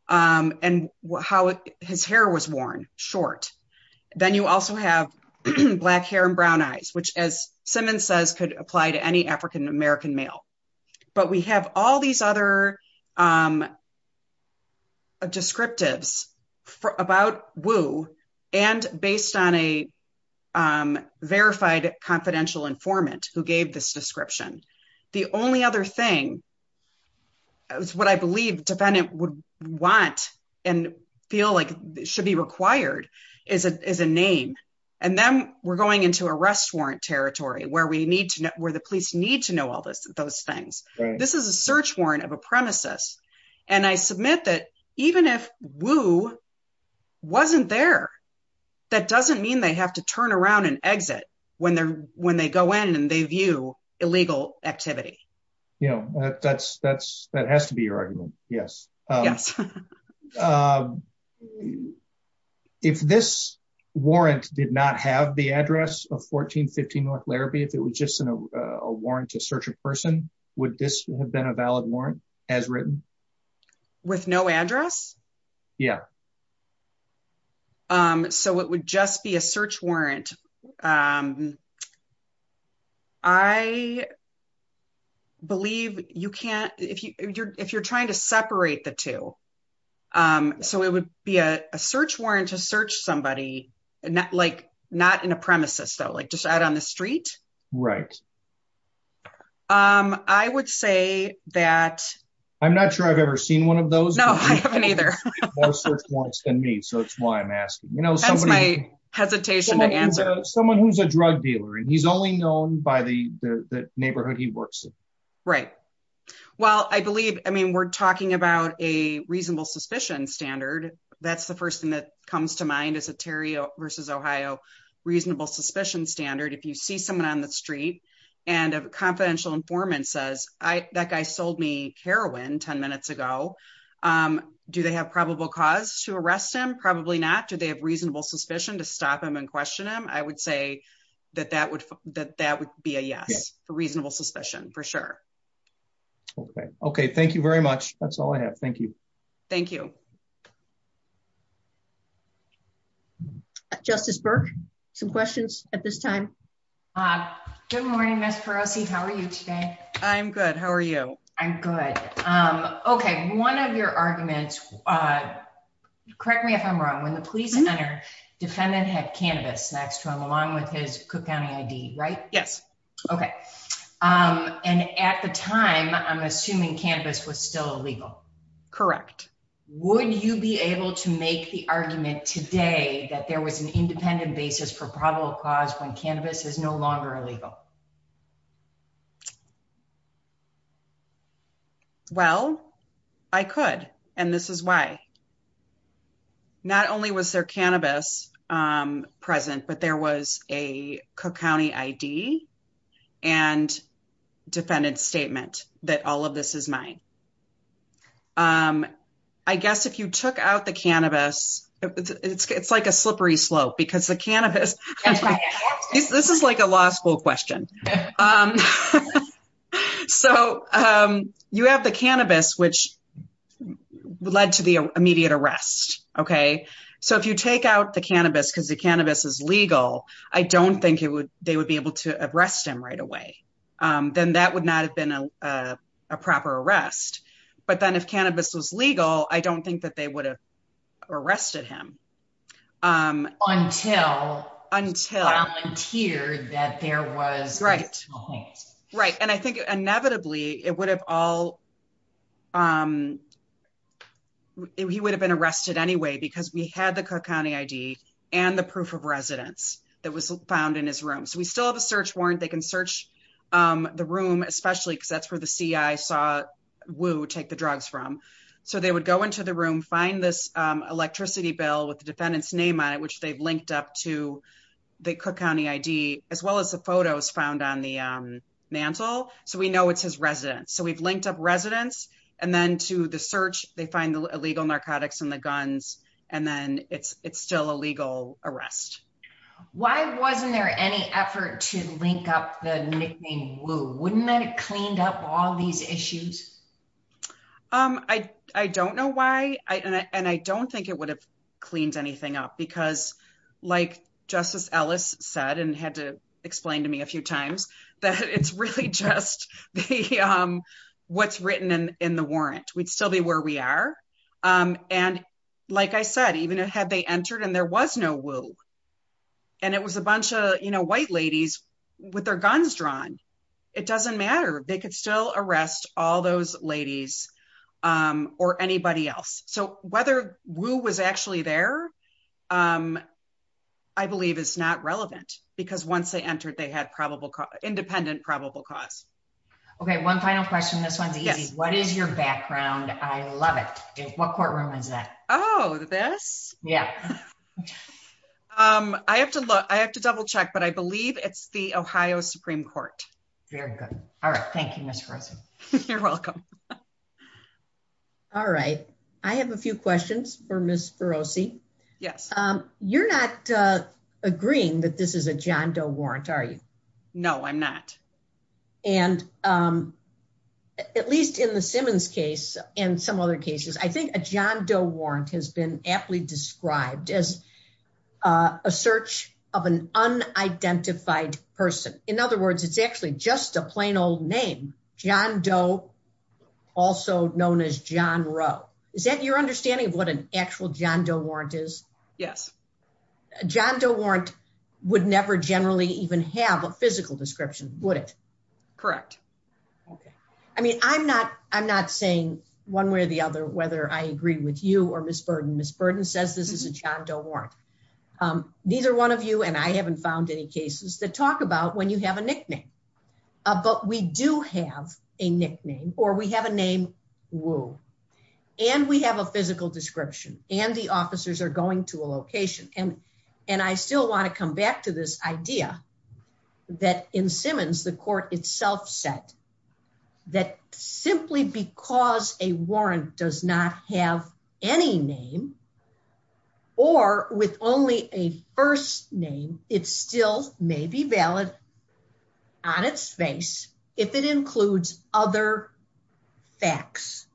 and how his hair was worn, short. Then you also have black hair and brown eyes, which as Simmons says, could apply to any African American male. But we have all these other descriptives about Wu and based on a verified confidential informant who gave this description. The only other thing is what I believe defendant would want and feel like should be required is a name. And then we're going into arrest warrant territory where the police need to know all those things. This is a search warrant of a premises. And I submit that even if Wu wasn't there, that doesn't mean they have to turn around and exit when they go in and they view illegal activity. Yeah, that has to be your argument. Yes. If this warrant did not have the address of 1415 North Larrabee, if it was just a warrant to search a person, would this have been a valid warrant as written? With no address? Yeah. So it would just be a search warrant. And I believe you can't, if you're trying to separate the two, so it would be a search warrant to search somebody, not in a premises, so just out on the street. Right. I would say that... I'm not sure I've ever seen one of those. No, I haven't either. That's why I'm asking. That's my hesitation to answer. Someone who's a drug dealer and he's only known by the neighborhood he works in. Right. Well, I believe, I mean, we're talking about a reasonable suspicion standard. That's the first thing that comes to mind is a Terry v. Ohio reasonable suspicion standard. If you see someone on the street and a confidential informant says, that guy sold me heroin 10 minutes ago, do they have probable cause to arrest him? Probably not. Do they have reasonable suspicion to stop him and question him? I would say that that would be a yes, a reasonable suspicion for sure. Okay. Okay. Thank you very much. That's all I have. Thank you. Thank you. Justice Burke, some questions at this time? Good morning, Ms. Parosky. How are you today? I'm good. How are you? I'm good. Okay. One of your arguments, correct me if I'm wrong, when the police defendant had cannabis, that's from along with his cook family deed, right? Yes. Okay. And at the time, I'm assuming cannabis was still illegal. Correct. Would you be able to make the argument today that there was an independent basis for probable cause when cannabis is no longer illegal? Well, I could, and this is why. Not only was there cannabis present, but there was a Cook County ID and defendant's statement that all of this is mine. I guess if you took out the cannabis, it's like a slippery slope because the cannabis, this is like a law school question. So you have the cannabis, which led to the immediate arrest. Okay. So if you take out the cannabis because the cannabis is legal, I don't think they would be able to arrest him right away. Then that would not have been a proper arrest. But then if cannabis was legal, I don't think that they would have arrested him. Until it appeared that there was a small case. Right. And I think inevitably, he would have been arrested anyway, because we had the Cook County ID and the proof of residence that was found in his room. So we still have a search warrant. They can search the room, especially because that's where the CI saw Wu take the drugs from. So they would go into the room, find this electricity bill with the defendant's name on it, which they've linked up to the Cook County ID, as well as the photos found on the mantle. So we know it's his residence. So we've linked up residence. And then to the search, they find illegal narcotics in the guns. And then it's still a legal arrest. Why wasn't there any effort to link up the nickname Wu? Wouldn't that have cleaned up all these issues? I don't know why. And I don't think it would have cleaned anything up because, like Justice Ellis said and had to explain to me a few times, that it's really just what's written in the warrant. We'd still be where we are. And like I said, even had they entered and there was no Wu, and it was a bunch of white ladies with their guns drawn, it doesn't matter. They could still arrest all those ladies or anybody else. So whether Wu was actually there, I believe it's not relevant, because once they entered, they had independent probable cause. Okay, one final question. What is your background? I love it. What courtroom is that? Oh, this? Yeah. I have to double check, but I believe it's the Ohio Supreme Court. Very good. All right. Thank you. You're welcome. All right. I have a few questions for Ms. Ferrosi. Yes. You're not agreeing that this is a John Doe warrant, are you? No, I'm not. And at least in the Simmons case and some other cases, I think a John Doe warrant has been aptly described as a search of an unidentified person. In other words, it's actually just a plain old name. John Doe, also known as John Rowe. Is that your understanding of what an actual John Doe warrant is? John Doe warrant would never generally even have a physical description, would it? Correct. I mean, I'm not saying one way or the other whether I agree with you or Ms. Burden. Ms. Burden says this is a John Doe warrant. Neither one of you and I haven't found any cases that talk about when you have a nickname. But we do have a nickname or we have a name, Rowe, and we have a physical description and the officers are going to a location. And I still want to come back to this idea that in Simmons, the court itself said that simply because a warrant does not have any name or with only a first name, it still may be valid on its face if it includes other facts,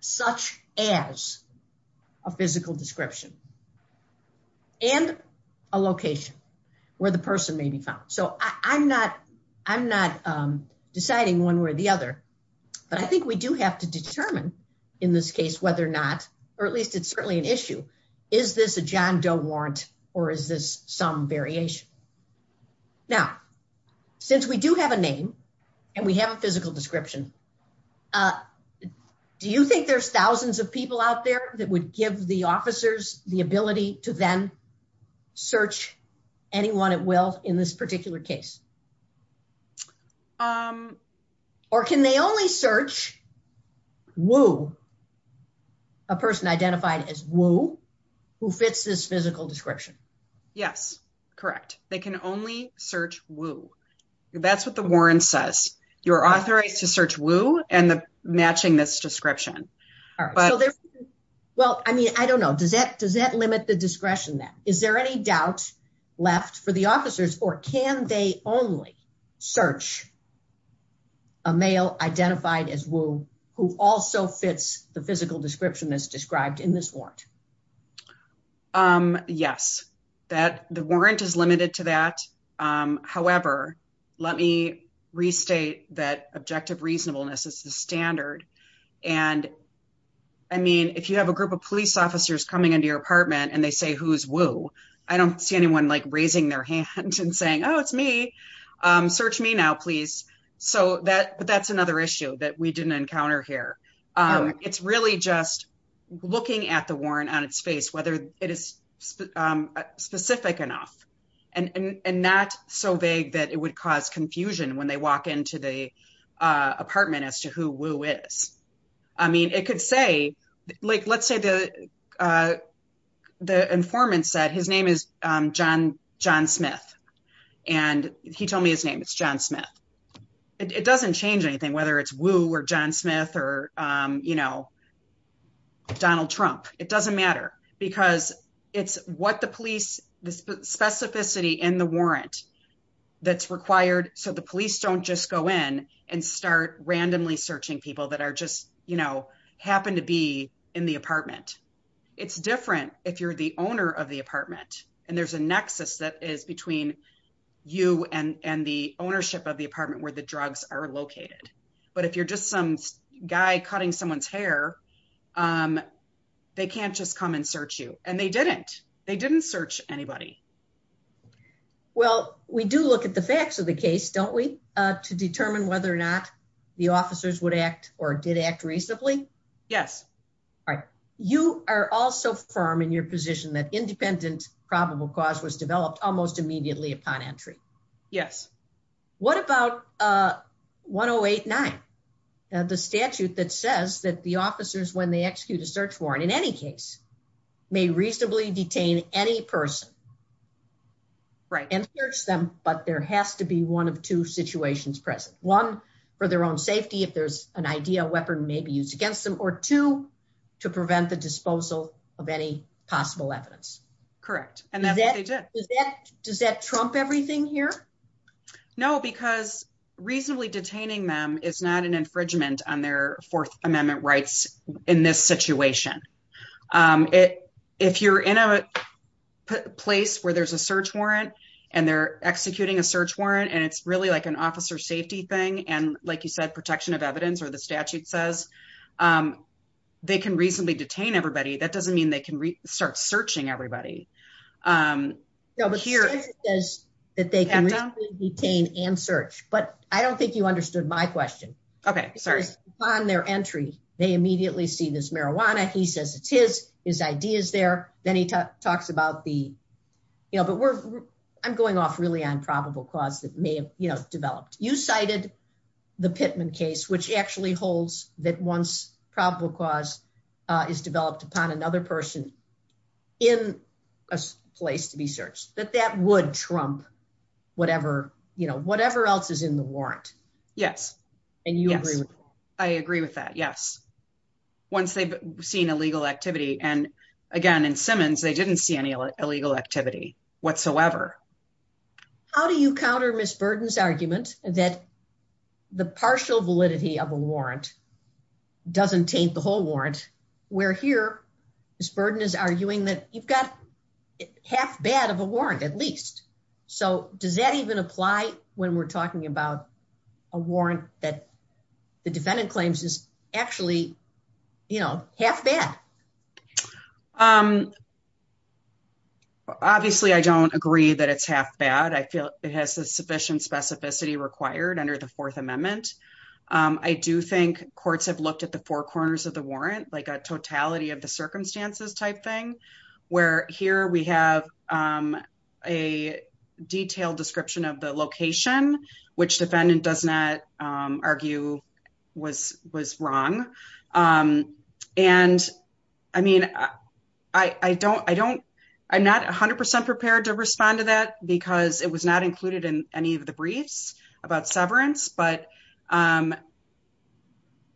such as a physical description. And a location where the person may be found. So I'm not, I'm not deciding one way or the other. But I think we do have to determine in this case, whether or not, or at least it's certainly an issue. Is this a John Doe warrant or is this some variation? Now, since we do have a name and we have a physical description. Do you think there's thousands of people out there that would give the officers the ability to then search anyone at will in this particular case? Or can they only search Wu, a person identified as Wu, who fits this physical description? Yes, correct. They can only search Wu. That's what the warrant says. You're authorized to search Wu and matching this description. Well, I mean, I don't know. Does that limit the discretion? Is there any doubt left for the officers or can they only search a male identified as Wu who also fits the physical description as described in this warrant? Yes, that the warrant is limited to that. However, let me restate that objective reasonableness is the standard. And I mean, if you have a group of police officers coming into your apartment and they say who's Wu, I don't see anyone like raising their hand and saying, oh, it's me. Search me now, please. So that's another issue that we didn't encounter here. It's really just looking at the warrant on its face, whether it is specific enough and not so vague that it would cause confusion when they walk into the apartment as to who Wu is. I mean, it could say, like, let's say the informant said his name is John Smith. And he told me his name is John Smith. It doesn't change anything, whether it's Wu or John Smith or, you know, Donald Trump. It doesn't matter because it's what the police specificity in the warrant that's required. So the police don't just go in and start randomly searching people that are just, you know, happen to be in the apartment. It's different if you're the owner of the apartment and there's a nexus that is between you and the ownership of the apartment where the drugs are located. But if you're just some guy cutting someone's hair, they can't just come and search you. And they didn't. They didn't search anybody. Well, we do look at the facts of the case, don't we, to determine whether or not the officers would act or did act reasonably? Yes. All right. You are also firm in your position that independent probable cause was developed almost immediately upon entry. Yes. What about 1089? The statute that says that the officers, when they execute a search warrant in any case, may reasonably detain any person. Right. And search them, but there has to be one of two situations present. One, for their own safety, if there's an idea a weapon may be used against them. Or two, to prevent the disposal of any possible evidence. Correct. Does that trump everything here? No, because reasonably detaining them is not an infringement on their Fourth Amendment rights in this situation. If you're in a place where there's a search warrant and they're executing a search warrant and it's really like an officer safety thing and, like you said, protection of evidence or the statute says, they can reasonably detain everybody. That doesn't mean they can start searching everybody. No, but the statute says that they can reasonably detain and search. But I don't think you understood my question. Okay. Sorry. Upon their entry, they immediately see this marijuana. He says it's his. His idea is there. Then he talks about the, you know, but we're, I'm going off really on probable cause that may have, you know, developed. You cited the Pittman case, which actually holds that once probable cause is developed upon another person in a place to be searched, that that would trump whatever, you know, whatever else is in the warrant. Yes. And you agree with that? I agree with that. Yes. Once they've seen illegal activity. And again, in Simmons, they didn't see any illegal activity whatsoever. How do you counter Ms. Burden's argument that the partial validity of a warrant doesn't taint the whole warrant, where here Ms. Burden is arguing that you've got half bad of a warrant at least. So, does that even apply when we're talking about a warrant that the defendant claims is actually, you know, half bad? Obviously, I don't agree that it's half bad. I feel it has the sufficient specificity required under the Fourth Amendment. I do think courts have looked at the four corners of the warrant, like a totality of the circumstances type thing, where here we have a detailed description of the location, which defendant does not argue was wrong. And, I mean, I don't, I don't, I'm not 100% prepared to respond to that because it was not included in any of the briefs about severance, but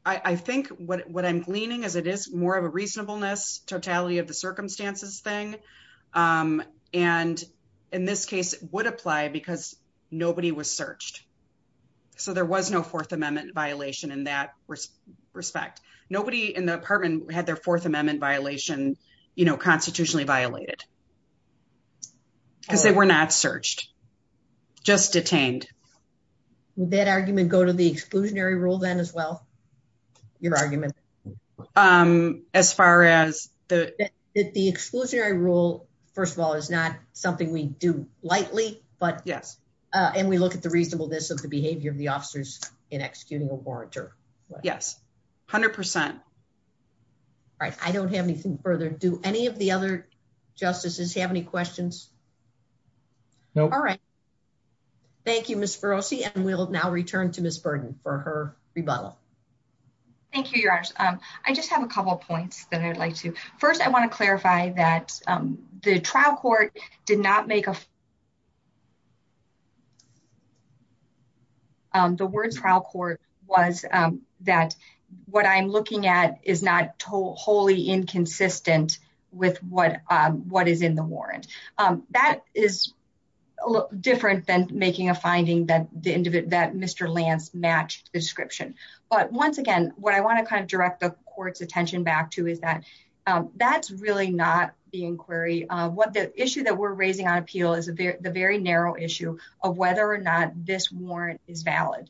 I think what I'm gleaning is it is more of a reasonableness totality of the circumstances thing. And, in this case, it would apply because nobody was searched. So, there was no Fourth Amendment violation in that respect. Nobody in the apartment had their Fourth Amendment violation, you know, constitutionally violated. They were not searched, just detained. Would that argument go to the exclusionary rule then as well? Your argument? As far as the exclusionary rule, first of all, is not something we do lightly, but, yes, and we look at the reasonableness of the behavior of the officers in executing a warrantor. Yes, 100%. Right. I don't have anything further. Do any of the other justices have any questions? No. All right. Thank you, Ms. Berosi, and we'll now return to Ms. Burton for her rebuttal. Thank you, Your Honor. I just have a couple of points that I'd like to. First, I want to clarify that the trial court did not make a The word trial court was that what I'm looking at is not wholly inconsistent with what is in the warrant. That is different than making a finding that Mr. Lance matched the description. But, once again, what I want to kind of direct the court's attention back to is that that's really not the inquiry. The issue that we're raising on appeal is a very narrow issue of whether or not this warrant is valid.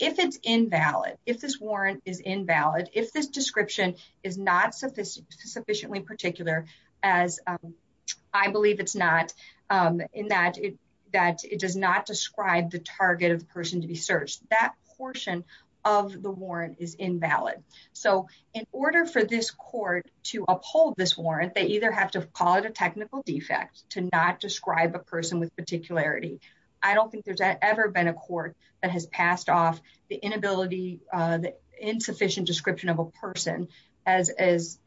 If it's invalid, if this warrant is invalid, if this description is not sufficiently particular as I believe it's not, in that it does not describe the target of the person to be searched, that portion of the warrant is invalid. So, in order for this court to uphold this warrant, they either have to call it a technical defect to not describe a person with particularity. I don't think there's ever been a court that has passed off the inability, the insufficient description of a person as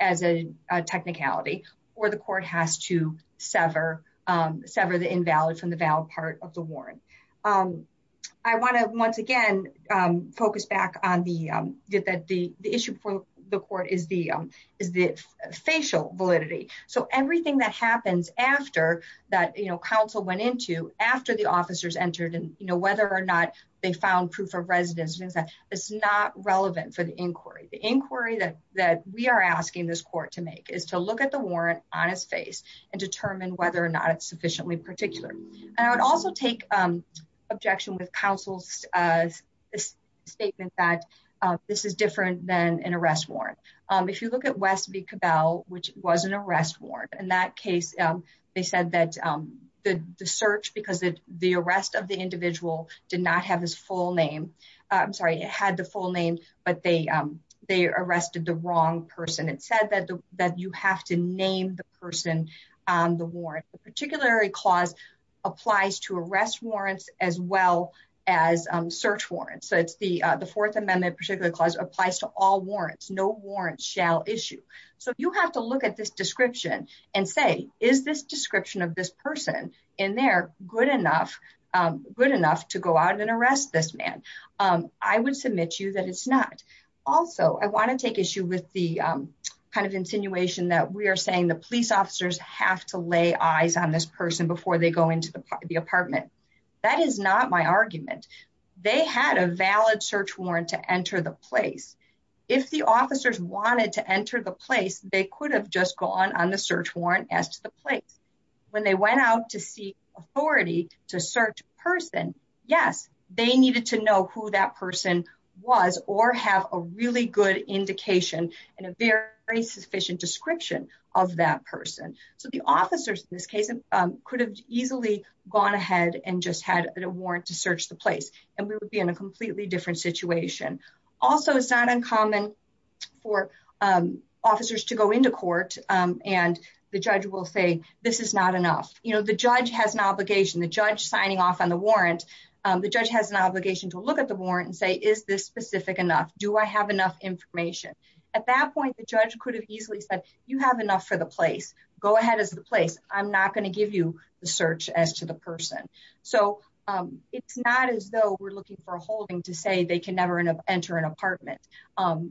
a technicality. Or the court has to sever the invalid from the valid part of the warrant. I want to, once again, focus back on the issue for the court is the facial validity. So everything that happens after that, you know, counsel went into after the officers entered and, you know, whether or not they found proof of residence, it's not relevant for the inquiry. The inquiry that we are asking this court to make is to look at the warrant on its face and determine whether or not it's sufficiently particular. I would also take objection with counsel's statement that this is different than an arrest warrant. If you look at West v. Cabell, which was an arrest warrant, in that case, they said that the search, because the arrest of the individual did not have his full name. I'm sorry, it had the full name, but they arrested the wrong person. It said that you have to name the person on the warrant. The particularity clause applies to arrest warrants as well as search warrants. So it's the Fourth Amendment particular clause applies to all warrants. No warrants shall issue. So you have to look at this description and say, is this description of this person in there good enough, good enough to go out and arrest this man? I would submit to you that it's not. Also, I want to take issue with the kind of insinuation that we are saying the police officers have to lay eyes on this person before they go into the apartment. That is not my argument. They had a valid search warrant to enter the place. If the officers wanted to enter the place, they could have just gone on the search warrant as to the place. When they went out to seek authority to search a person, yes, they needed to know who that person was or have a really good indication and a very sufficient description of that person. So the officers, in this case, could have easily gone ahead and just had a warrant to search the place and we would be in a completely different situation. Also, it's not uncommon for officers to go into court and the judge will say, this is not enough. You know, the judge has an obligation, the judge signing off on the warrant. The judge has an obligation to look at the warrant and say, is this specific enough? Do I have enough information? At that point, the judge could have easily said, you have enough for the place. Go ahead as the place. I'm not going to give you the search as to the person. So it's not as though we're looking for a holding to say they can never enter an apartment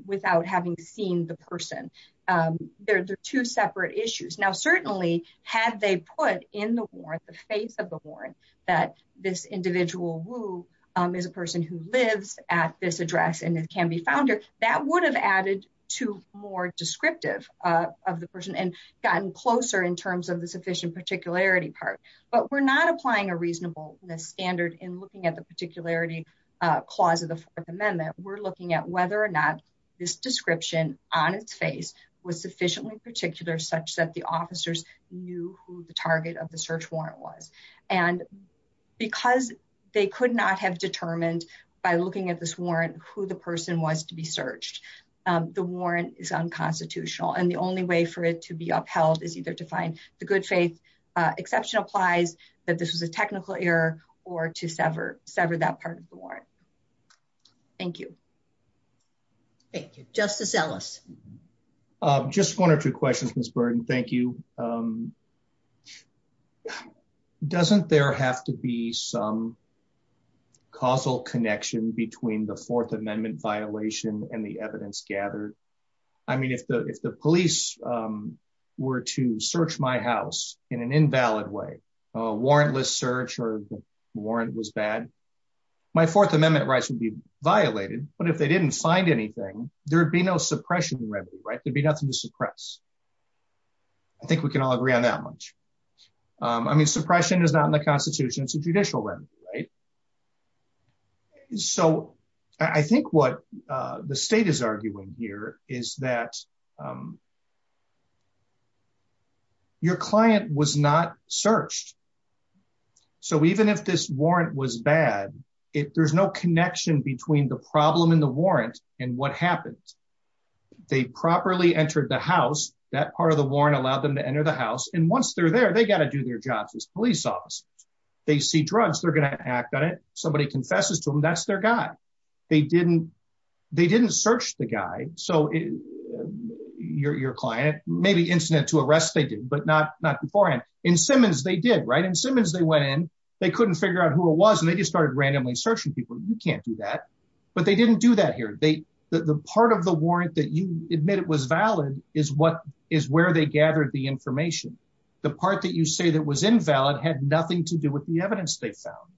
without having seen the person. There are two separate issues. Now, certainly, had they put in the warrant, the faith of the warrant, that this individual, Wu, is a person who lives at this address and can be found, that would have added to more descriptive of the person and gotten closer in terms of the sufficient particularity part. But we're not applying a reasonableness standard in looking at the particularity clause of the Fourth Amendment. We're looking at whether or not this description on its face was sufficiently particular such that the officers knew who the target of the search warrant was. And because they could not have determined by looking at this warrant who the person was to be searched, the warrant is unconstitutional. And the only way for it to be upheld is either to find the good faith exception applies, that this is a technical error, or to sever that part of the warrant. Thank you. Thank you. Justice Ellis. Just one or two questions, Ms. Burton. Thank you. Doesn't there have to be some causal connection between the Fourth Amendment violation and the evidence gathered? I mean, if the police were to search my house in an invalid way, a warrantless search or the warrant was bad, my Fourth Amendment rights would be violated. But if they didn't find anything, there would be no suppression remedy, right? There would be nothing to suppress. I think we can all agree on that much. I mean, suppression is not in the Constitution. It's a judicial remedy, right? So I think what the state is arguing here is that your client was not searched. So even if this warrant was bad, there's no connection between the problem in the warrant and what happens. They properly entered the house. That part of the warrant allowed them to enter the house. And once they're there, they got to do their jobs as police officers. They see drugs, they're going to act on it. Somebody confesses to them, that's their guy. They didn't search the guy. So your client, maybe incident to arrest they did, but not beforehand. In Simmons, they did, right? In Simmons, they went in, they couldn't figure out who it was, and they just started randomly searching people. You can't do that. But they didn't do that here. The part of the warrant that you admit it was valid is where they gathered the information. The part that you say that was invalid had nothing to do with the evidence they found.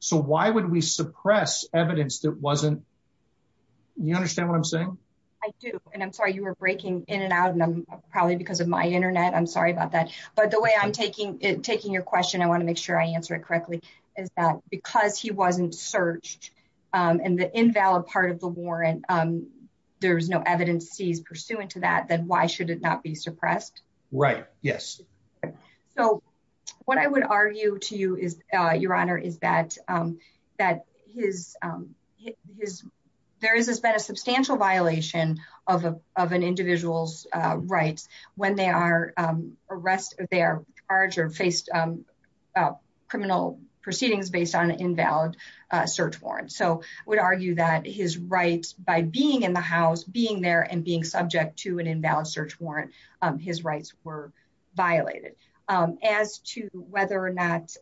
So why would we suppress evidence that wasn't You understand what I'm saying? I do. And I'm sorry, you were breaking in and out, and I'm probably because of my internet. I'm sorry about that. But the way I'm taking your question, I want to make sure I answer it correctly, is that because he wasn't searched, and the invalid part of the warrant, there's no evidence he's pursuant to that, then why should it not be suppressed? Right. Yes. So what I would argue to you, Your Honor, is that there has been a substantial violation of an individual's rights when they are charged or faced criminal proceedings based on an invalid search warrant. So I would argue that his rights by being in the house, being there, and being subject to an invalid search warrant, his rights were violated. As to whether or not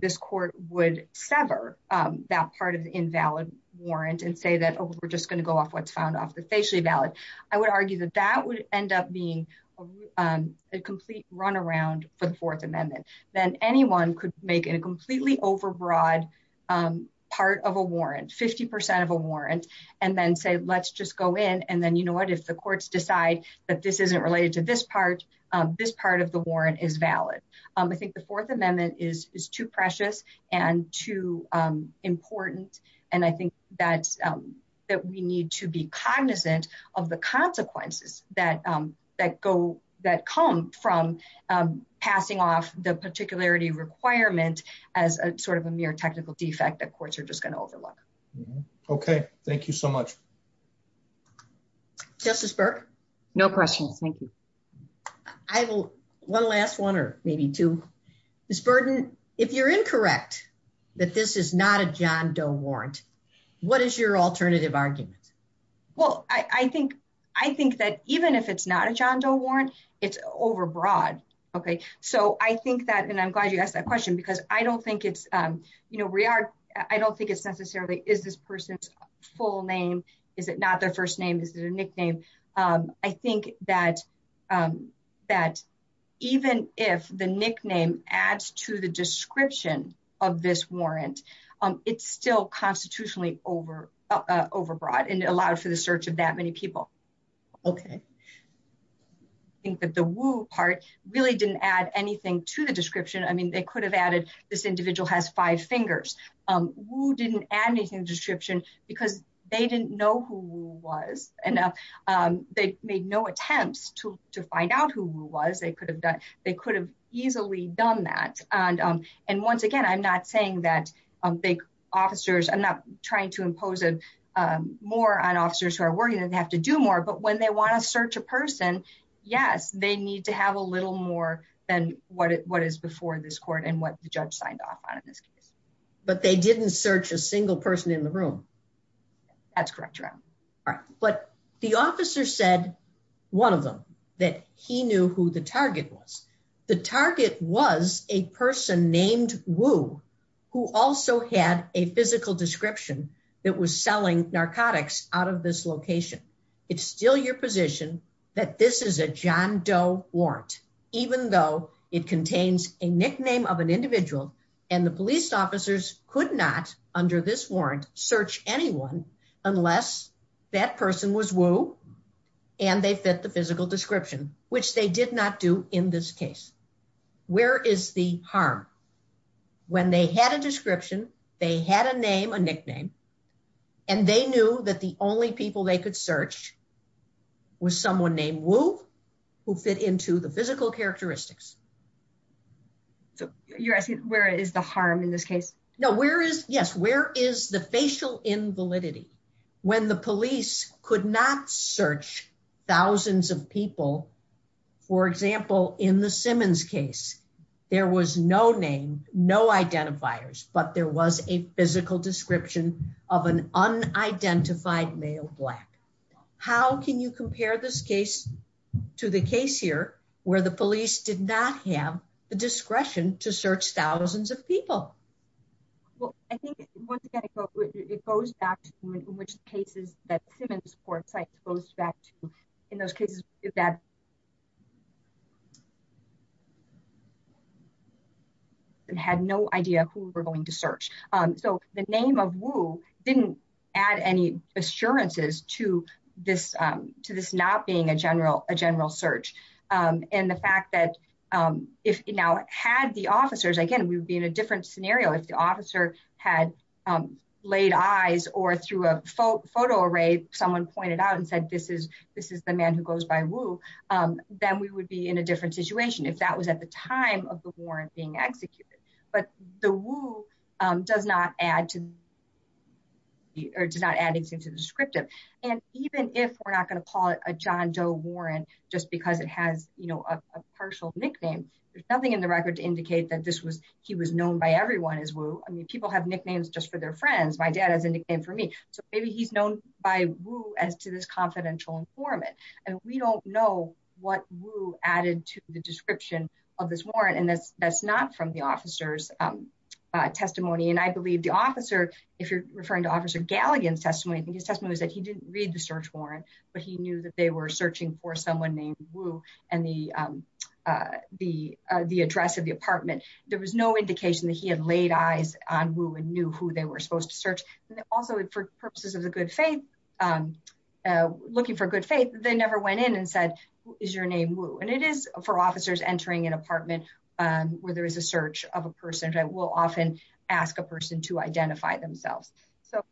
this court would sever that part of the invalid warrant and say that, oh, we're just going to go off what's found off the facially valid, I would argue that that would end up being a complete runaround for the Fourth Amendment. Then anyone could make a completely overbroad part of a warrant, 50% of a warrant, and then say, let's just go in, and then, you know what, if the courts decide that this isn't related to this part, this part of the warrant is valid. I think the Fourth Amendment is too precious and too important, and I think that we need to be cognizant of the consequences that come from passing off the particularity requirement as sort of a mere technical defect that courts are just going to overlook. Okay. Thank you so much. Justice Burke? No questions. Thank you. One last one, or maybe two. Ms. Burden, if you're incorrect that this is not a John Doe warrant, what is your alternative argument? Well, I think that even if it's not a John Doe warrant, it's overbroad. Okay. So I think that, and I'm glad you asked that question, because I don't think it's necessarily, is this person's full name, is it not their first name, is it a nickname? I think that even if the nickname adds to the description of this warrant, it's still constitutionally overbroad, and it allows for the search of that many people. Okay. I think that the woo part really didn't add anything to the description. I mean, they could have added, this individual has five fingers. Woo didn't add anything to the description, because they didn't know who Woo was, and they made no attempt to find out who Woo was. They could have easily done that. And once again, I'm not saying that big officers, I'm not trying to impose more on officers who are working and have to do more, but when they want to search a person, yes, they need to have a little more than what is before this court and what the judge signed off on. But they didn't search a single person in the room. That's correct, Your Honor. But the officer said, one of them, that he knew who the target was. The target was a person named Woo, who also had a physical description that was selling narcotics out of this location. It's still your position that this is a John Doe warrant, even though it contains a nickname of an individual, and the police officers could not, under this warrant, search anyone unless that person was Woo, and they fit the physical description, which they did not do in this case. Where is the harm? When they had a description, they had a name, a nickname, and they knew that the only people they could search was someone named Woo, who fit into the physical characteristics. You're asking where is the harm in this case? No, where is, yes, where is the facial invalidity? When the police could not search thousands of people, for example, in the Simmons case, there was no name, no identifiers, but there was a physical description of an unidentified male black. How can you compare this case to the case here, where the police did not have the discretion to search thousands of people? Well, I think, once again, it goes back to in which cases that Simmons, for example, goes back to, in those cases that had no idea who we're going to search. So the name of Woo didn't add any assurances to this not being a general search. And the fact that if now had the officers, again, we would be in a different scenario if the officer had laid eyes or through a photo array, someone pointed out and said, this is the man who goes by Woo, then we would be in a different situation. If that was at the time of the warrant being executed. But the Woo does not add anything to the descriptive. And even if we're not going to call it a John Doe warrant, just because it has a personal nickname, there's nothing in the record to indicate that he was known by everyone as Woo. I mean, people have nicknames just for their friends. My dad has a nickname for me. So maybe he's known by Woo as to this confidential informant. And we don't know what Woo added to the description of this warrant. And that's not from the officer's testimony. And I believe the officer, if you're referring to Officer Galligan's testimony, I think his testimony was that he didn't read the search warrant, but he knew that they were searching for someone named Woo and the address of the apartment. There was no indication that he had laid eyes on Woo and knew who they were supposed to search. Also, for purposes of a good faith, looking for good faith, they never went in and said, is your name Woo? And it is for officers entering an apartment where there is a search of a person that will often ask a person to identify themselves. So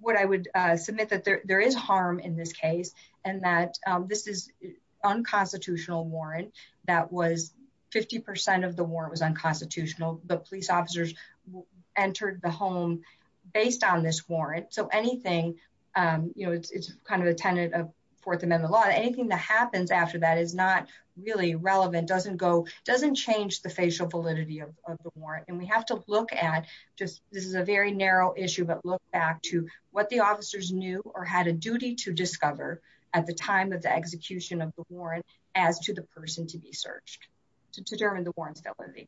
what I would submit that there is harm in this case and that this is unconstitutional warrant that was 50% of the warrant was unconstitutional. The police officers entered the home based on this warrant. So anything, you know, it's kind of a tenant of Fourth Amendment law. Anything that happens after that is not really relevant, doesn't go, doesn't change the facial validity of the warrant. And we have to look at, this is a very narrow issue, but look back to what the officers knew or had a duty to discover at the time of the execution of the warrant as to the person to be searched. To determine the warrantability.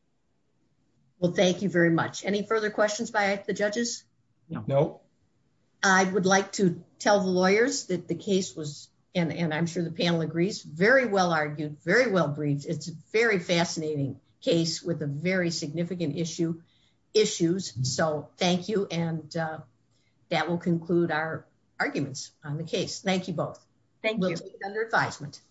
Well, thank you very much. Any further questions by the judges? No. I would like to tell the lawyers that the case was, and I'm sure the panel agrees, very well argued, very well briefed. It's very fascinating case with a very significant issue, issues. So thank you. And that will conclude our arguments on the case. Thank you both. Thank you. Under advisement.